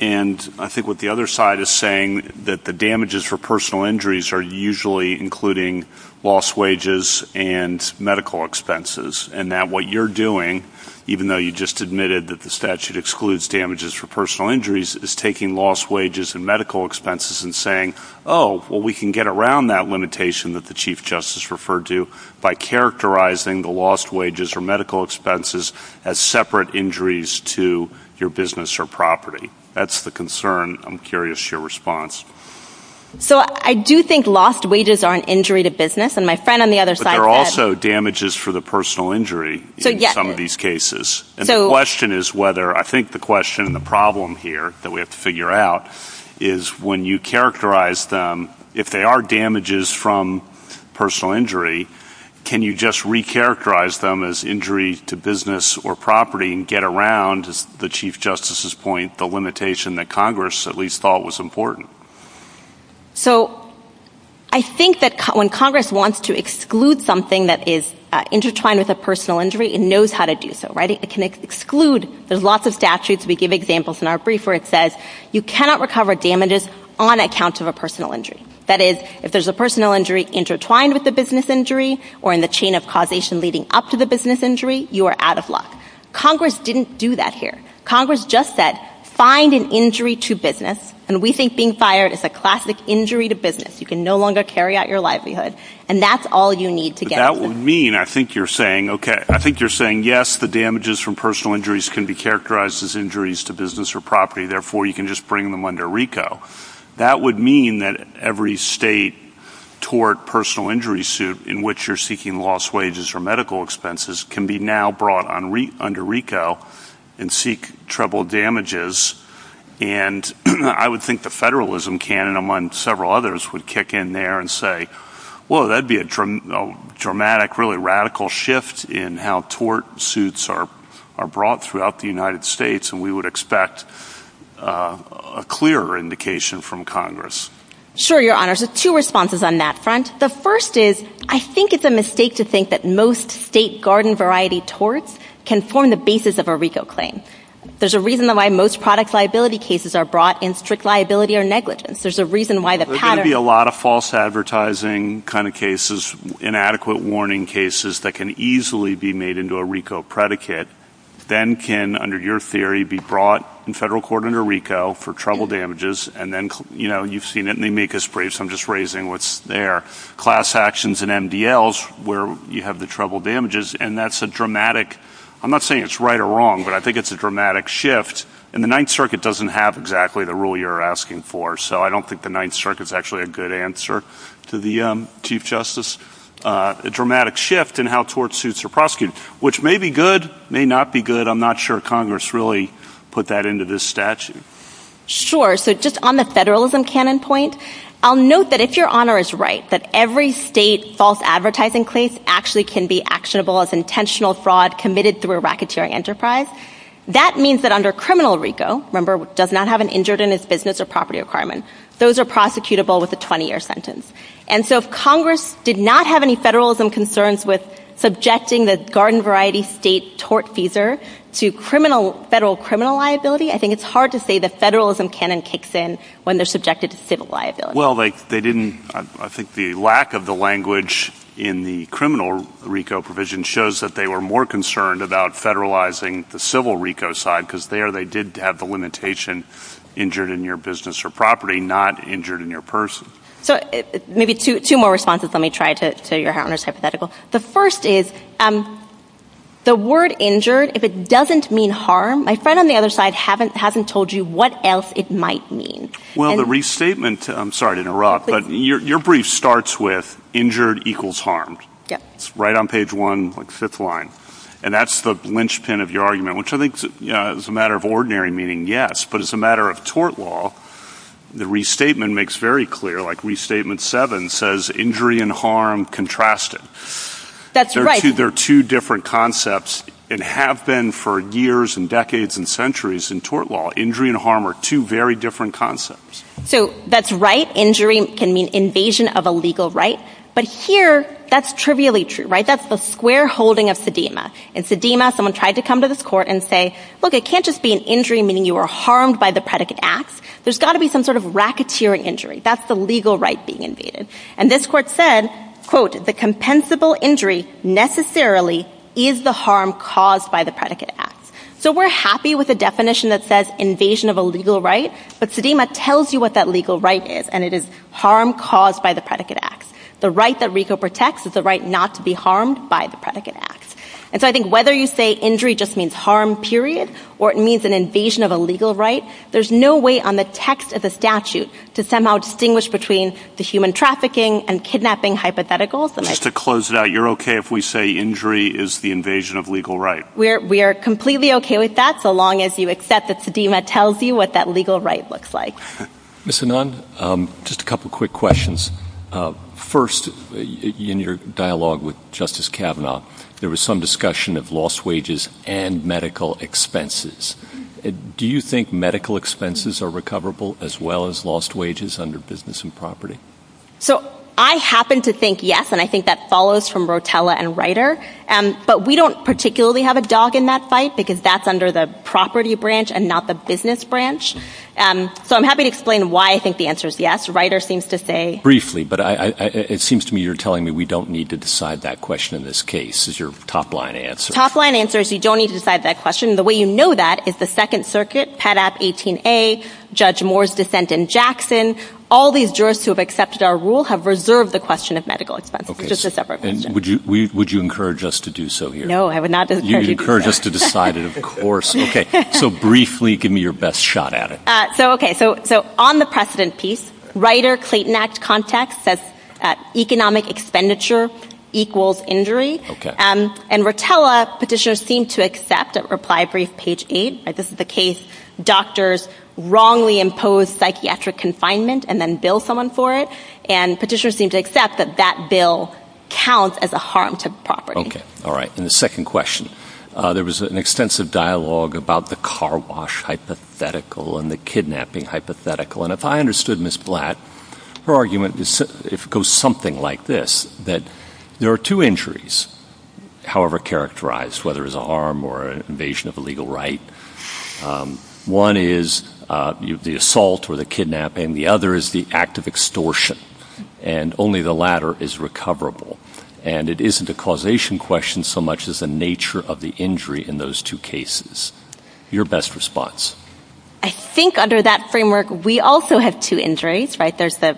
And I think what the other side is saying, that the damages for personal injuries are usually including lost wages and medical expenses. And that what you're doing, even though you just admitted that the statute excludes damages for personal injuries, is taking lost wages and medical expenses and saying, oh, well, we can get around that limitation that the Chief Justice referred to by characterizing the lost wages or medical expenses as separate injuries to your business or property. That's the concern. I'm curious your response. So I do think lost wages are an injury to business. And my friend on the other side said... But there are also damages for the personal injury in some of these cases. And the question is whether... I think the question and the problem here that we have to figure out is when you characterize them, if they are damages from personal injury, can you just recharacterize them as injury to business or property and get around, as the Chief Justice's point, the limitation that Congress at least thought was important? So I think that when Congress wants to exclude something that is intertwined with a personal injury, it knows how to do so, right? It can exclude... There's lots of statutes, we give examples in our brief where it says you cannot recover damages on account of a personal injury. That is, if there's a personal injury intertwined with a business injury or in the chain of causation leading up to the business injury, you are out of luck. Congress didn't do that here. Congress just said, find an injury to business. And we think being fired is a classic injury to business. You can no longer carry out your livelihood. And that's all you need to get... That would mean, I think you're saying, okay, I think you're saying, yes, the damages from personal injuries can be characterized as injuries to business or property, therefore you can just bring them under RICO. That would mean that every state tort personal injury suit in which you're seeking lost wages or medical expenses can be now brought under RICO and seek treble damages. And I would think the federalism can, among several others, would kick in there and say, whoa, that'd be a dramatic, really radical shift in how tort suits are brought throughout the United States. And we would expect a clearer indication from Congress. Sure, Your Honor. So two responses on that front. The first is, I think it's a mistake to think that most state garden variety torts can form the basis of a RICO claim. There's a reason why most product liability cases are brought in strict liability or negligence. There's a reason why the pattern... There's going to be a lot of false advertising kind of cases, inadequate warning cases that can easily be made into a RICO predicate, then can, under your theory, be brought in federal court under RICO for treble damages. And then, you know, you've seen it in the amicus briefs, I'm just raising what's there. Class actions and MDLs where you have the treble damages. And that's a dramatic, I'm not saying it's right or wrong, but I think it's a dramatic shift. And the Ninth Circuit doesn't have exactly the rule you're asking for. So I don't think the Ninth Circuit is actually a good answer to the Chief Justice. A dramatic shift in how tort suits are prosecuted, which may be good, may not be good. I'm not sure Congress really put that into this statute. Sure. So just on the federalism canon point, I'll note that if Your Honor is right, that every state false advertising case actually can be actionable as intentional fraud committed through a racketeering enterprise, that means that under criminal RICO, remember, does not have an injured in his business or property requirement. Those are prosecutable with a 20-year sentence. And so if Congress did not have any federalism concerns with subjecting the garden variety state tort feeser to federal criminal liability, I think it's hard to say the federalism canon kicks in when they're subjected to civil liability. Well, they didn't, I think the lack of the language in the criminal RICO provision shows that they were more concerned about federalizing the civil RICO side, because there they did have the limitation injured in your business or property, not injured in your person. So maybe two more responses, let me try to tell Your Honor's hypothetical. The first is, the word injured, if it doesn't mean harm, my friend on the other side hasn't told you what else it might mean. Well, the restatement, I'm sorry to interrupt, but your brief starts with injured equals harmed. Yep. It's right on page one, like fifth line. And that's the linchpin of your argument, which I think is a matter of ordinary meaning yes, but it's a matter of tort law. The restatement makes very clear, like restatement seven says injury and harm contrasted. That's right. They're two different concepts and have been for years and decades and centuries in tort law. Injury and harm are two very different concepts. So that's right. Injury can mean invasion of a legal right. But here, that's trivially true, right? That's the square holding of Sedema. And Sedema, someone tried to come to this court and say, look, it can't just be an injury meaning you were harmed by the predicate acts. There's got to be some sort of racketeering injury. That's the legal right being invaded. And this court said, quote, the compensable injury necessarily is the harm caused by the predicate acts. So we're happy with a definition that says invasion of a legal right, but Sedema tells you what that legal right is, and it is harm caused by the predicate acts. The right that RICO protects is the right not to be harmed by the predicate acts. And so I think whether you say injury just means harm, period, or it means an invasion of a legal right, there's no way on the text of the statute to somehow distinguish between the human trafficking and kidnapping hypotheticals. Just to close it out, you're okay if we say injury is the invasion of legal right? We're completely okay with that so long as you accept that Sedema tells you what that legal right looks like. Ms. Anand, just a couple quick questions. First, in your dialogue with Justice Kavanaugh, there was some discussion of lost wages and medical expenses. Do you think medical expenses are recoverable as well as lost wages under business and property? So I happen to think yes, and I think that follows from Rotella and Reiter. But we don't particularly have a dog in that fight because that's under the property branch and not the business branch. So I'm happy to explain why I think the answer is yes. Reiter seems to say... Briefly, but it seems to me you're telling me we don't need to decide that question in this case is your top line answer. Top line answer is you don't need to decide that question. The way you know that is the Second Circuit, PADAP 18A, Judge Moore's dissent in Jackson, all these jurists who have accepted our rule have reserved the question of medical expenses. Just a separate question. Would you encourage us to do so here? No, I would not encourage you to do that. You would encourage us to decide it, of course. So briefly, give me your best shot at it. So on the precedent piece, Reiter-Clayton Act context says economic expenditure equals injury. And Rotella petitioners seem to accept, reply brief, page 8, this is the case, doctors wrongly impose psychiatric confinement and then bill someone for it. And petitioners seem to accept that that bill counts as a harm to property. All right. In the second question, there was an extensive dialogue about the car wash hypothetical and the kidnapping hypothetical. And if I understood Ms. Blatt, her argument goes something like this, that there are two injuries, however characterized, whether it's a harm or an invasion of a legal right. One is the assault or the kidnapping. The other is the act of extortion. And only the latter is recoverable. And it isn't a causation question so much as the nature of the injury in those two cases. Your best response. I think under that framework, we also have two injuries, right? There's the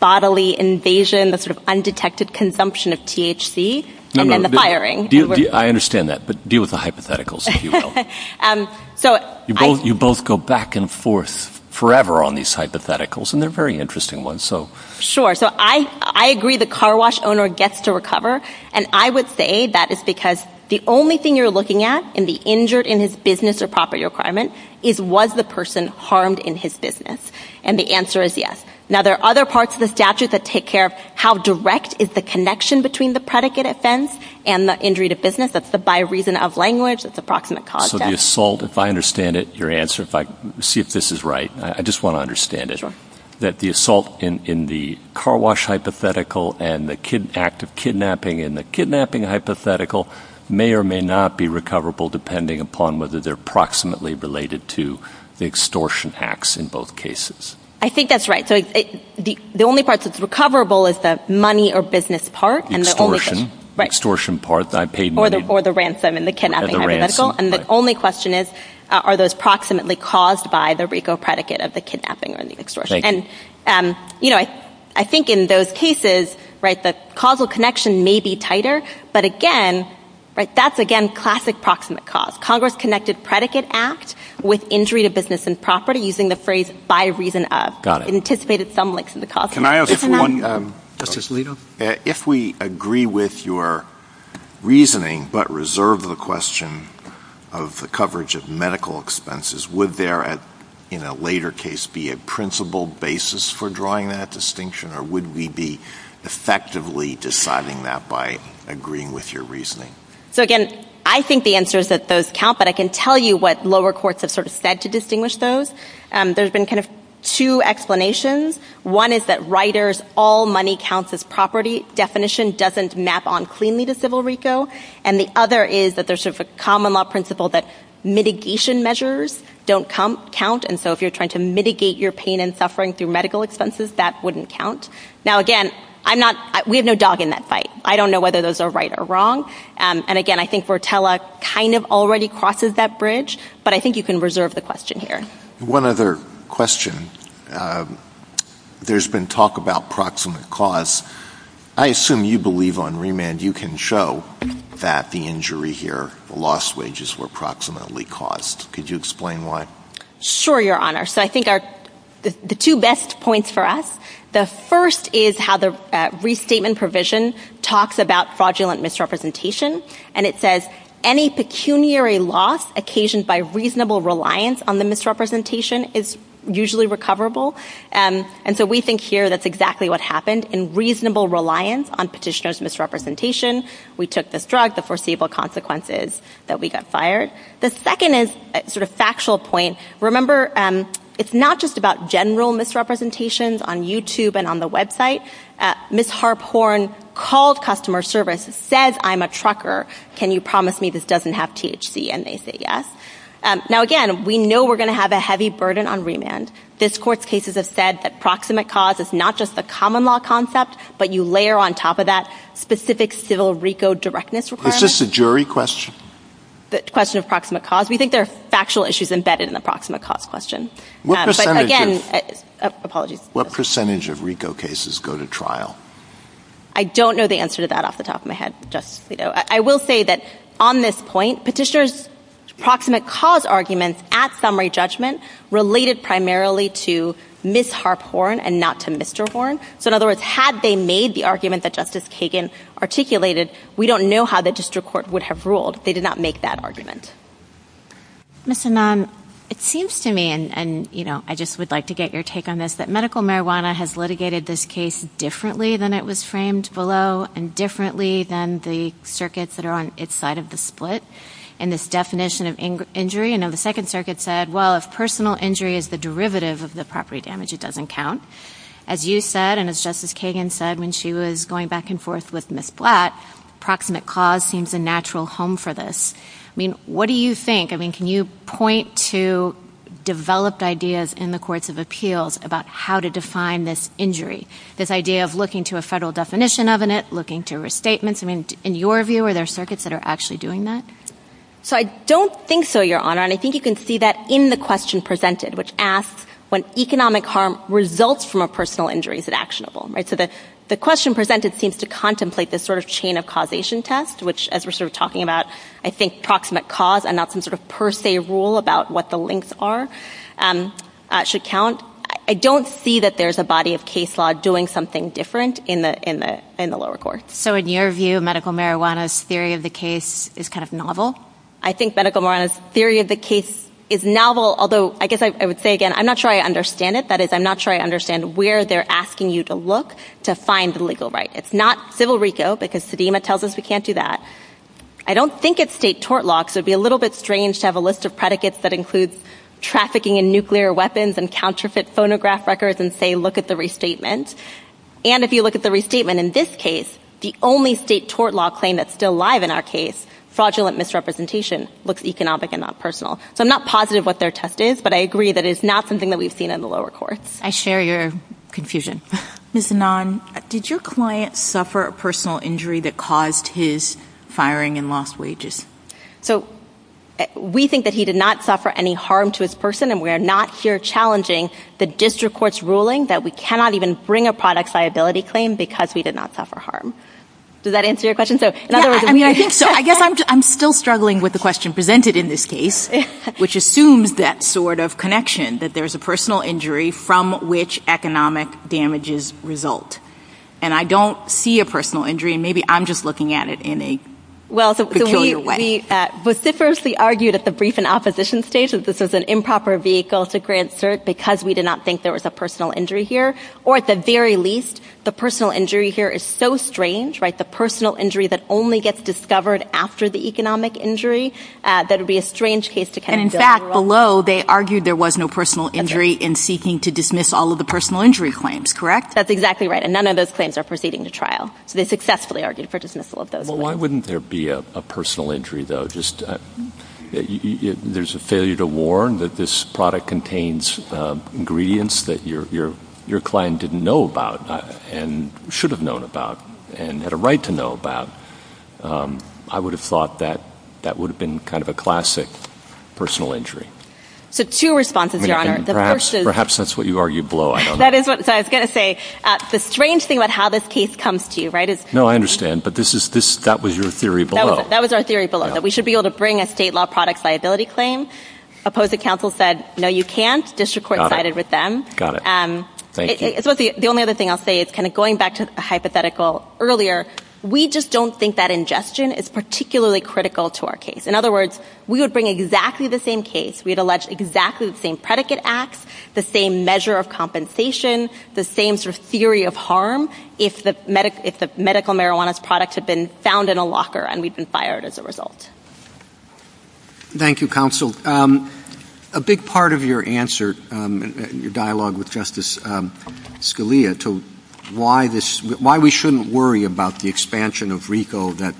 bodily invasion, the sort of undetected consumption of THC, and then the firing. I understand that. But deal with the hypotheticals, if you will. You both go back and forth forever on these hypotheticals, and they're very interesting ones. Sure. So I agree the car wash owner gets to recover. And I would say that is because the only thing you're looking at in the injured in his business or property requirement is was the person harmed in his business. And the answer is yes. Now, there are other parts of the statute that take care of how direct is the connection between the predicate offense and the injury to business. That's the by reason of language. That's approximate cause. So the assault, if I understand it, your answer, if I see if this is right, I just want to hypothetical and the active kidnapping and the kidnapping hypothetical may or may not be recoverable depending upon whether they're proximately related to the extortion acts in both cases. I think that's right. So the only parts that's recoverable is the money or business part and the extortion. Extortion part. I paid money. Or the ransom and the kidnapping hypothetical. And the only question is, are those proximately caused by the RICO predicate of the kidnapping or the extortion? Thank you. And, you know, I think in those cases, right, the causal connection may be tighter. But again, right, that's again classic proximate cause. Congress connected predicate act with injury to business and property using the phrase by reason of. Got it. Anticipated some links in the cause. Can I ask one? Justice Alito? If we agree with your reasoning but reserve the question of the coverage of medical expenses, would there in a later case be a principled basis for drawing that distinction or would we be effectively deciding that by agreeing with your reasoning? So again, I think the answer is that those count, but I can tell you what lower courts have sort of said to distinguish those. There's been kind of two explanations. One is that Reiter's all money counts as property definition doesn't map on cleanly to civil RICO. And the other is that there's sort of a common law principle that mitigation measures don't count. And so if you're trying to mitigate your pain and suffering through medical expenses, that wouldn't count. Now, again, I'm not ‑‑ we have no dog in that fight. I don't know whether those are right or wrong. And again, I think Rotella kind of already crosses that bridge. But I think you can reserve the question here. One other question. There's been talk about proximate cause. I assume you believe on remand you can show that the injury here, the lost wages were proximately caused. Could you explain why? Sure, Your Honor. So I think the two best points for us, the first is how the restatement provision talks about fraudulent misrepresentation. And it says any pecuniary loss occasioned by reasonable reliance on the misrepresentation is usually recoverable. And so we think here that's exactly what happened in reasonable reliance on petitioner's misrepresentation. We took this drug. The foreseeable consequence is that we got fired. The second is sort of factual point. Remember, it's not just about general misrepresentations on YouTube and on the website. Ms. Harphorn called customer service, says I'm a trucker, can you promise me this doesn't have THC? And they say yes. Now, again, we know we're going to have a heavy burden on remand. This Court's cases have said that proximate cause is not just the common law concept, but you layer on top of that specific civil RICO directness requirement. Is this a jury question? The question of proximate cause. We think there are factual issues embedded in the proximate cause question. But again, apologies. What percentage of RICO cases go to trial? I don't know the answer to that off the top of my head, Justice Alito. I will say that on this point, petitioner's proximate cause arguments at summary judgment related primarily to Ms. Harphorn and not to Mr. Horn. So in other words, had they made the argument that Justice Kagan articulated, we don't know how the district court would have ruled if they did not make that argument. Ms. Anand, it seems to me, and I just would like to get your take on this, that medical marijuana has litigated this case differently than it was framed below and differently than the circuits that are on its side of the split. In this definition of injury, I know the Second Circuit said, well, if personal injury is the derivative of the property damage, it doesn't count. As you said, and as Justice Kagan said when she was going back and forth with Ms. Blatt, proximate cause seems a natural home for this. What do you think? Can you point to developed ideas in the courts of appeals about how to define this injury? This idea of looking to a federal definition of it, looking to restatements. In your view, are there circuits that are actually doing that? So I don't think so, Your Honor, and I think you can see that in the question presented, which asks, when economic harm results from a personal injury, is it actionable? The question presented seems to contemplate this sort of chain of causation test, which as we're sort of talking about, I think proximate cause and not some sort of per se rule about what the links are should count. I don't see that there's a body of case law doing something different in the lower courts. So in your view, medical marijuana's theory of the case is kind of novel? I think medical marijuana's theory of the case is novel, although I guess I would say again, I'm not sure I understand it. That is, I'm not sure I understand where they're asking you to look to find the legal right. It's not civil RICO, because Sedema tells us we can't do that. I don't think it's state tort law, so it'd be a little bit strange to have a list of predicates that includes trafficking in nuclear weapons and counterfeit phonograph records and say, look at the restatement. And if you look at the restatement in this case, the only state tort law claim that's still live in our case, fraudulent misrepresentation, looks economic and not personal. So I'm not positive what their test is, but I agree that it's not something that we've seen in the lower courts. I share your confusion. Ms. Anand, did your client suffer a personal injury that caused his firing and lost wages? So we think that he did not suffer any harm to his person, and we're not here challenging the district court's ruling that we cannot even bring a product's liability claim because we did not suffer harm. Does that answer your question? So, in other words... Yeah, I mean, I think so. I guess I'm still struggling with the question presented in this case, which assumes that sort of connection, that there's a personal injury from which economic damages result. And I don't see a personal injury, and maybe I'm just looking at it in a peculiar way. Well, so we vociferously argued at the brief and opposition stage that this was an improper vehicle to grant cert because we did not think there was a personal injury here. Or at the very least, the personal injury here is so strange, right, the personal injury that only gets discovered after the economic injury, that it would be a strange case to kind of... And in fact, below, they argued there was no personal injury in seeking to dismiss all of the personal injury claims, correct? That's exactly right. And none of those claims are proceeding to trial. So they successfully argued for dismissal of those claims. Well, why wouldn't there be a personal injury, though? I mean, there's a failure to warn that this product contains ingredients that your client didn't know about, and should have known about, and had a right to know about. I would have thought that that would have been kind of a classic personal injury. So two responses, Your Honor. Perhaps that's what you argued below, I don't know. That is what I was going to say. The strange thing about how this case comes to you, right, is... No, I understand. But that was your theory below. That was our theory below, that we should be able to bring a state law product's liability claim. Opposing counsel said, no, you can't. District court sided with them. Got it. Got it. Thank you. The only other thing I'll say is, kind of going back to a hypothetical earlier, we just don't think that ingestion is particularly critical to our case. In other words, we would bring exactly the same case, we'd allege exactly the same predicate acts, the same measure of compensation, the same sort of theory of harm, if the medical marijuana's product had been found in a locker and we'd been fired as a result. Thank you, counsel. A big part of your answer, your dialogue with Justice Scalia, to why we shouldn't worry about the expansion of RICO that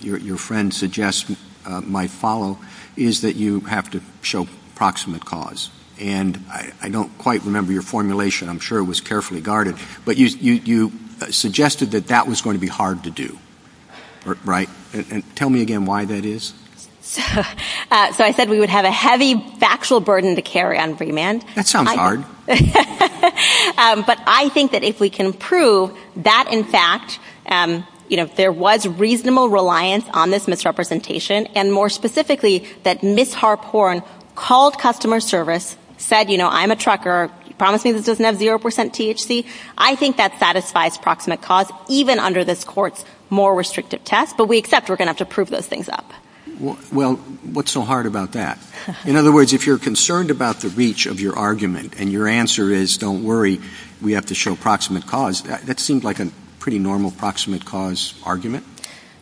your friend suggests might follow, is that you have to show proximate cause. And I don't quite remember your formulation, I'm sure it was carefully guarded. But you suggested that that was going to be hard to do, right? And tell me again why that is. So I said we would have a heavy factual burden to carry on remand. That sounds hard. But I think that if we can prove that, in fact, you know, there was reasonable reliance on this misrepresentation, and more specifically, that Ms. Harporn called customer service, said, you know, I'm a trucker, promise me this doesn't have 0% THC, I think that satisfies proximate cause, even under this Court's more restrictive test. But we accept we're going to have to prove those things up. Well, what's so hard about that? In other words, if you're concerned about the reach of your argument, and your answer is don't worry, we have to show proximate cause, that seemed like a pretty normal proximate cause argument.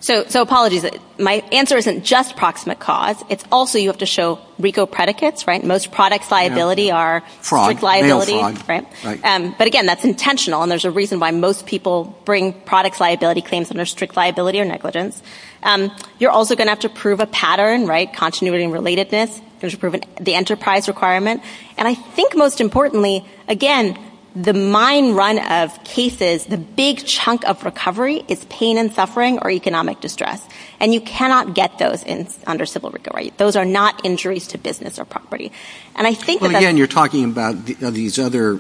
So, so apologies. My answer isn't just proximate cause. It's also you have to show RICO predicates, right? Most products liability are strict liability, but again, that's intentional, and there's a reason why most people bring products liability claims under strict liability or negligence. You're also going to have to prove a pattern, right, continuity and relatedness, you have to prove the enterprise requirement, and I think most importantly, again, the mind run of cases, the big chunk of recovery is pain and suffering or economic distress. And you cannot get those under civil RICO, right? Those are not injuries to business or property. And I think that... Well, again, you're talking about these other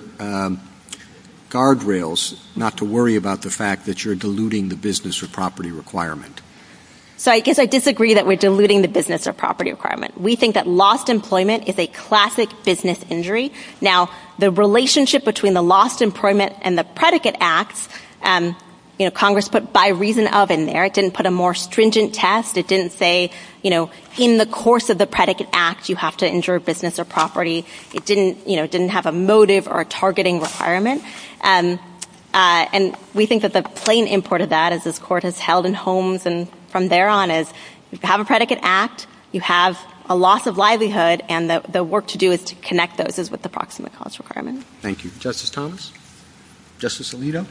guardrails, not to worry about the fact that you're diluting the business or property requirement. So I guess I disagree that we're diluting the business or property requirement. We think that lost employment is a classic business injury. Now, the relationship between the lost employment and the predicate acts, you know, Congress put by reason of in there, it didn't put a more stringent test, it didn't say, you know, in the course of the predicate act, you have to injure a business or property. It didn't, you know, didn't have a motive or a targeting requirement. And we think that the plain import of that as this Court has held in Holmes and from there on is, you have a predicate act, you have a loss of livelihood, and the work to do is to connect those as with the proximate cause requirement. Thank you. Justice Thomas? Justice Alito?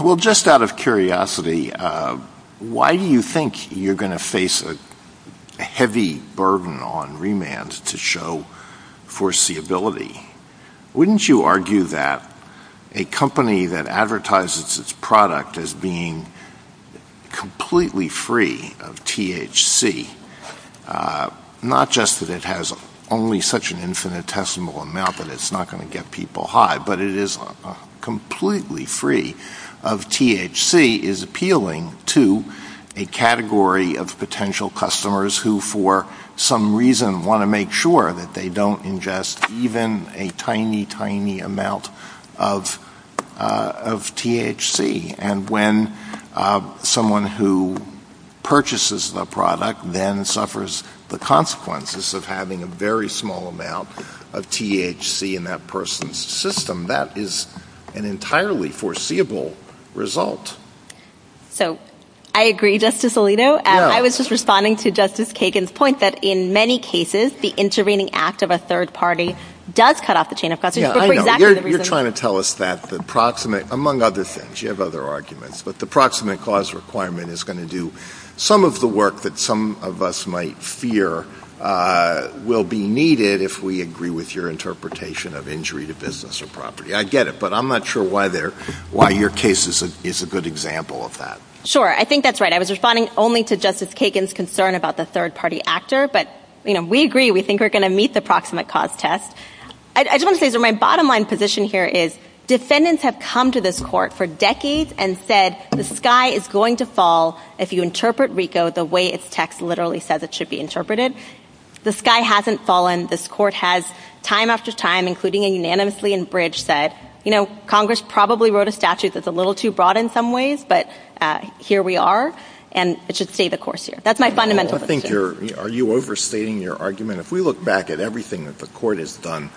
Well, just out of curiosity, why do you think you're going to face a heavy burden on remand to show foreseeability? Wouldn't you argue that a company that advertises its product as being completely free of THC, not just that it has only such an infinitesimal amount, but it's not going to get people high, but it is completely free of THC, is appealing to a category of potential customers who, for some reason, want to make sure that they don't ingest even a tiny, tiny amount of THC. And when someone who purchases the product then suffers the consequences of having a very small amount of THC in that person's system, that is an entirely foreseeable result. So I agree, Justice Alito. I was just responding to Justice Kagan's point that in many cases, the intervening act of a third party does cut off the chain of custody, but for exactly the reason— Yeah, I know. You're trying to tell us that the proximate, among other things, you have other arguments, but the proximate cause requirement is going to do some of the work that some of us might fear will be needed if we agree with your interpretation of injury to business or property. I get it, but I'm not sure why your case is a good example of that. Sure. I think that's right. I was responding only to Justice Kagan's concern about the third party actor, but we agree, we think we're going to meet the proximate cause test. I just want to say, my bottom line position here is defendants have come to this court for decades and said the sky is going to fall if you interpret RICO the way its text literally says it should be interpreted. The sky hasn't fallen. This court has, time after time, including a unanimously in Bridge, said, you know, Congress probably wrote a statute that's a little too broad in some ways, but here we are, and it should stay the course here. That's my fundamental position. Well, I think you're—are you overstating your argument? If we look back at everything that the court has done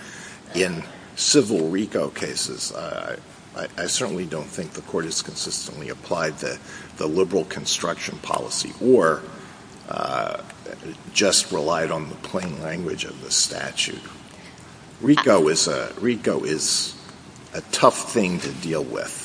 in civil RICO cases, I certainly don't think the court has consistently applied the liberal construction policy or just relied on the plain language of the statute. RICO is a—RICO is a tough thing to deal with.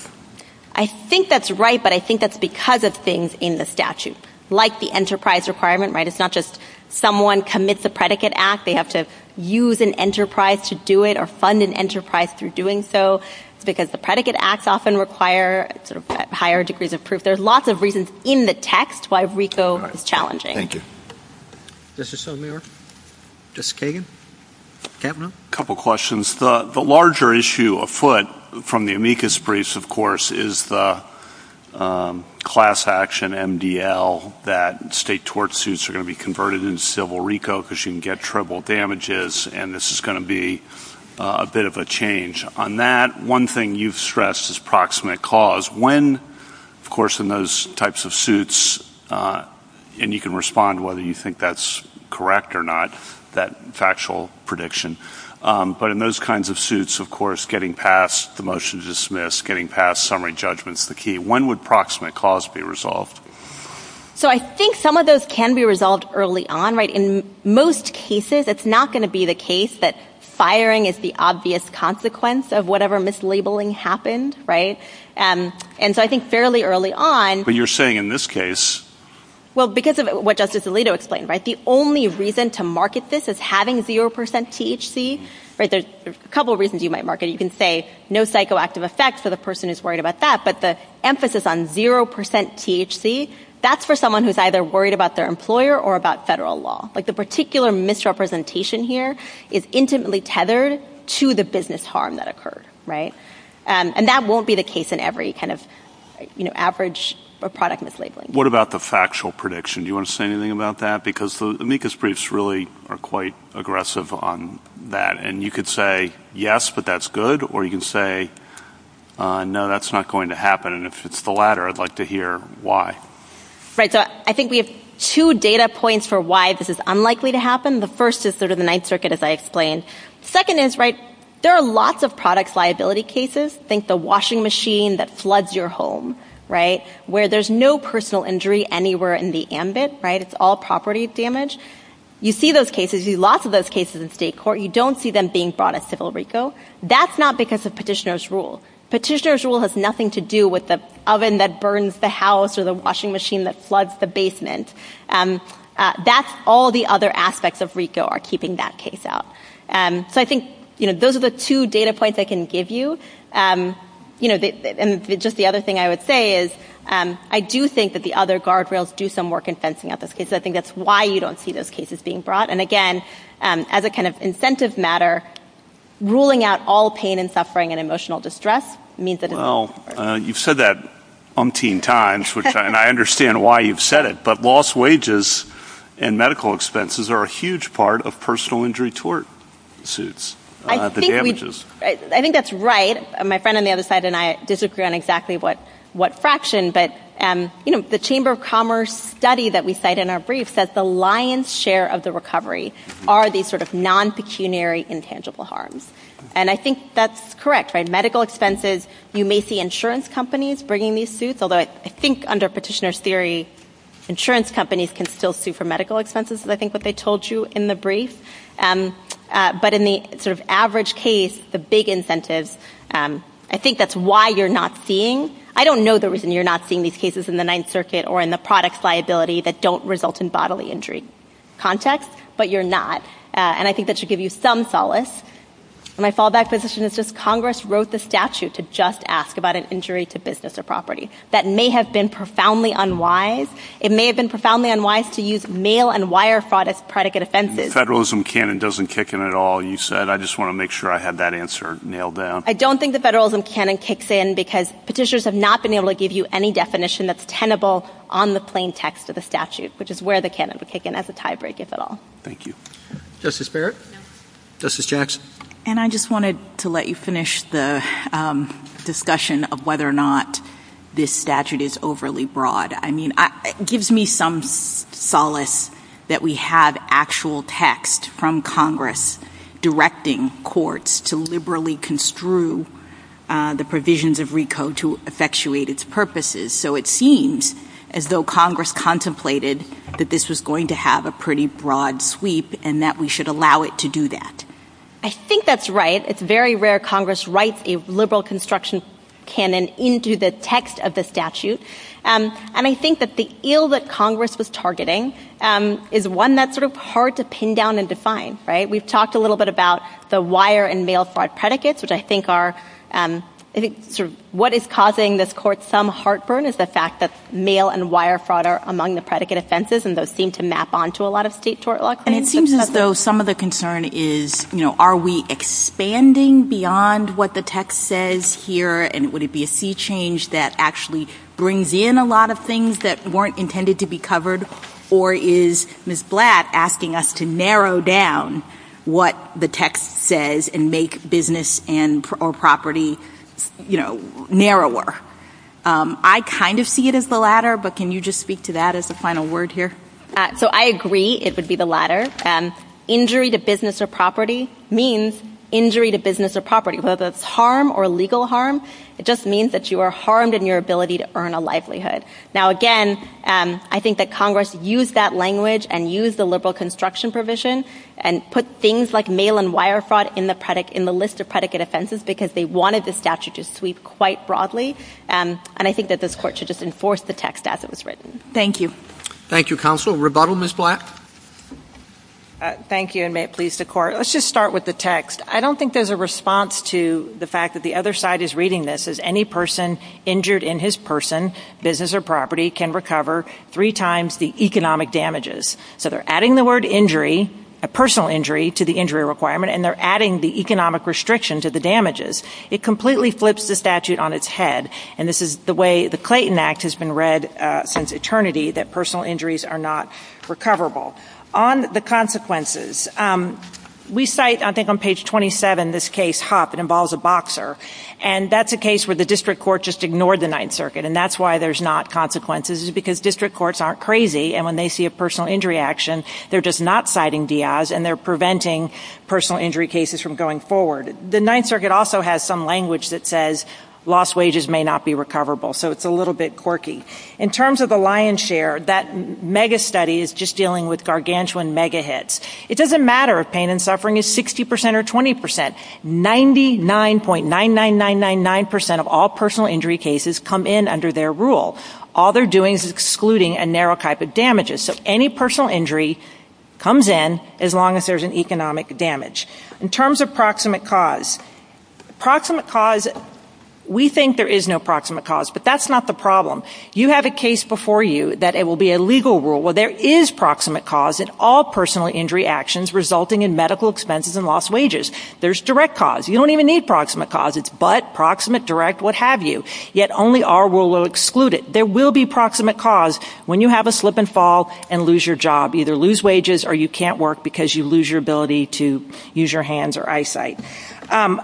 I think that's right, but I think that's because of things in the statute, like the enterprise requirement, right? It's not just someone commits a predicate act. They have to use an enterprise to do it or fund an enterprise through doing so. It's because the predicate acts often require sort of higher degrees of proof. There's lots of reasons in the text why RICO is challenging. Thank you. Justice O'Connor? Justice Kagan? Captain? A couple questions. The larger issue afoot from the amicus briefs, of course, is the class action MDL that state tort suits are going to be converted into civil RICO because you can get triple damages, and this is going to be a bit of a change. On that, one thing you've stressed is proximate cause. When, of course, in those types of suits—and you can respond whether you think that's correct or not, that factual prediction—but in those kinds of suits, of course, getting past the motion to dismiss, getting past summary judgment is the key. When would proximate cause be resolved? So I think some of those can be resolved early on, right? In most cases, it's not going to be the case that firing is the obvious consequence of whatever mislabeling happened, right? And so I think fairly early on— But you're saying in this case— Well, because of what Justice Alito explained, right? The only reason to market this as having zero percent THC—there's a couple reasons you might market it. You can say no psychoactive effect for the person who's worried about that, but the emphasis on zero percent THC, that's for someone who's either worried about their employer or about federal law. Like, the particular misrepresentation here is intimately tethered to the business harm that occurred, right? And that won't be the case in every kind of, you know, average or product mislabeling. What about the factual prediction? Do you want to say anything about that? Because the amicus briefs really are quite aggressive on that, and you could say, yes, but that's good, or you can say, no, that's not going to happen, and if it's the latter, I'd like to hear why. Right. So I think we have two data points for why this is unlikely to happen. The first is sort of the Ninth Circuit, as I explained. Second is, right, there are lots of products liability cases. Think the washing machine that floods your home, right, where there's no personal injury anywhere in the ambit, right? It's all property damage. You see those cases. You see lots of those cases in state court. You don't see them being brought at CivilRICO. That's not because of petitioner's rule. Petitioner's rule has nothing to do with the oven that burns the house or the washing machine that floods the basement. That's all the other aspects of RICO are keeping that case out. So I think, you know, those are the two data points I can give you, you know, and just the other thing I would say is I do think that the other guardrails do some work in fencing out those cases. I think that's why you don't see those cases being brought, and, again, as a kind of incentive matter, ruling out all pain and suffering and emotional distress means that it's not Well, you've said that umpteen times, and I understand why you've said it, but lost wages and medical expenses are a huge part of personal injury tort suits, the damages. I think that's right. My friend on the other side and I disagree on exactly what fraction, but, you know, the Chamber of Commerce study that we cite in our brief says the lion's share of the recovery are these sort of non-pecuniary intangible harms, and I think that's correct, right? Medical expenses, you may see insurance companies bringing these suits, although I think under petitioner's theory insurance companies can still sue for medical expenses, I think what they told you in the brief, but in the sort of average case, the big incentives, I think that's why you're not seeing, I don't know the reason you're not seeing these cases in the Ninth Circuit or in the products liability that don't result in bodily injury context, but you're not, and I think that should give you some solace. My fallback position is just Congress wrote the statute to just ask about an injury to business or property. That may have been profoundly unwise. It may have been profoundly unwise to use mail and wire fraud as predicate offenses. Federalism canon doesn't kick in at all, you said. I just want to make sure I had that answer nailed down. I don't think the federalism canon kicks in because petitioners have not been able to give you any definition that's tenable on the plain text of the statute, which is where the canon would kick in as a tiebreak, if at all. Thank you. Justice Barrett? Justice Jackson? And I just wanted to let you finish the discussion of whether or not this statute is overly broad. I mean, it gives me some solace that we have actual text from Congress directing courts to liberally construe the provisions of RICO to effectuate its purposes. So it seems as though Congress contemplated that this was going to have a pretty broad sweep, and that we should allow it to do that. I think that's right. It's very rare Congress writes a liberal construction canon into the text of the statute. And I think that the ill that Congress was targeting is one that's sort of hard to pin down and define, right? We've talked a little bit about the wire and mail fraud predicates, which I think are—what is causing this court some heartburn is the fact that mail and wire fraud are among the predicate offenses, and those seem to map onto a lot of state tort law claims. And it seems as though some of the concern is, you know, are we expanding beyond what the text says here, and would it be a sea change that actually brings in a lot of things that weren't intended to be covered? Or is Ms. Blatt asking us to narrow down what the text says and make business and—or property, you know, narrower? I kind of see it as the latter, but can you just speak to that as a final word here? So I agree it would be the latter. Injury to business or property means injury to business or property, whether it's harm or legal harm. It just means that you are harmed in your ability to earn a livelihood. Now again, I think that Congress used that language and used the liberal construction provision and put things like mail and wire fraud in the list of predicate offenses because they wanted the statute to sweep quite broadly, and I think that this Court should just enforce the text as it was written. Thank you. Thank you, Counsel. Rebuttal, Ms. Blatt? Thank you, and may it please the Court. Let's just start with the text. I don't think there's a response to the fact that the other side is reading this as any person injured in his person, business, or property can recover three times the economic damages. So they're adding the word injury, a personal injury, to the injury requirement, and they're adding the economic restriction to the damages. It completely flips the statute on its head, and this is the way the Clayton Act has been read since eternity, that personal injuries are not recoverable. On the consequences, we cite, I think on page 27, this case, Huff, it involves a boxer, and that's a case where the district court just ignored the Ninth Circuit, and that's why there's not consequences, is because district courts aren't crazy, and when they see a personal forward. The Ninth Circuit also has some language that says lost wages may not be recoverable. So it's a little bit quirky. In terms of the lion's share, that mega study is just dealing with gargantuan mega hits. It doesn't matter if pain and suffering is 60 percent or 20 percent, 99.99999 percent of all personal injury cases come in under their rule. All they're doing is excluding a narrow type of damages. So any personal injury comes in as long as there's an economic damage. In terms of proximate cause, proximate cause, we think there is no proximate cause, but that's not the problem. You have a case before you that it will be a legal rule. Well, there is proximate cause in all personal injury actions resulting in medical expenses and lost wages. There's direct cause. You don't even need proximate cause. It's but, proximate, direct, what have you, yet only our rule will exclude it. But there will be proximate cause when you have a slip and fall and lose your job, either lose wages or you can't work because you lose your ability to use your hands or eyesight.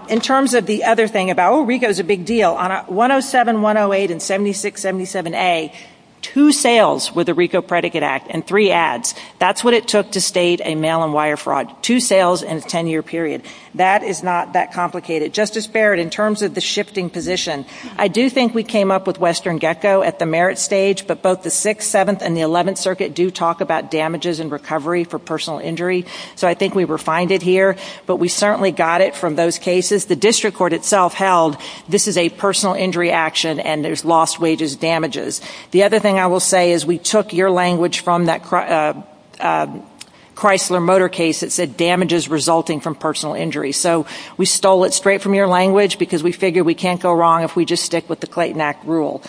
In terms of the other thing about, oh, RICO's a big deal, on 107, 108, and 76, 77A, two sales with the RICO Predicate Act and three ads. That's what it took to state a mail and wire fraud, two sales in a 10-year period. That is not that complicated. Justice Barrett, in terms of the shifting position, I do think we came up with Western Gecko at the merit stage, but both the 6th, 7th, and the 11th Circuit do talk about damages and recovery for personal injury. So I think we refined it here, but we certainly got it from those cases. The district court itself held this is a personal injury action and there's lost wages damages. The other thing I will say is we took your language from that Chrysler Motor case that said damages resulting from personal injury. So we stole it straight from your language because we figured we can't go wrong if we just stick with the Clayton Act rule.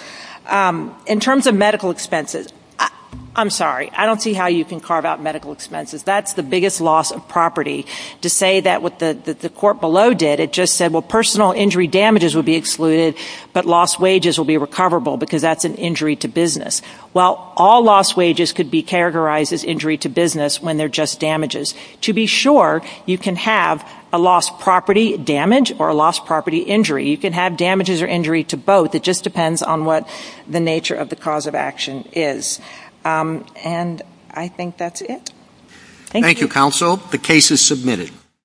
In terms of medical expenses, I'm sorry, I don't see how you can carve out medical expenses. That's the biggest loss of property. To say that what the court below did, it just said, well, personal injury damages would be excluded, but lost wages will be recoverable because that's an injury to business. Well, all lost wages could be characterized as injury to business when they're just damages. To be sure, you can have a lost property damage or a lost property injury. You can have damages or injury to both. It just depends on what the nature of the cause of action is. And I think that's it. Thank you. Thank you, counsel. The case is submitted.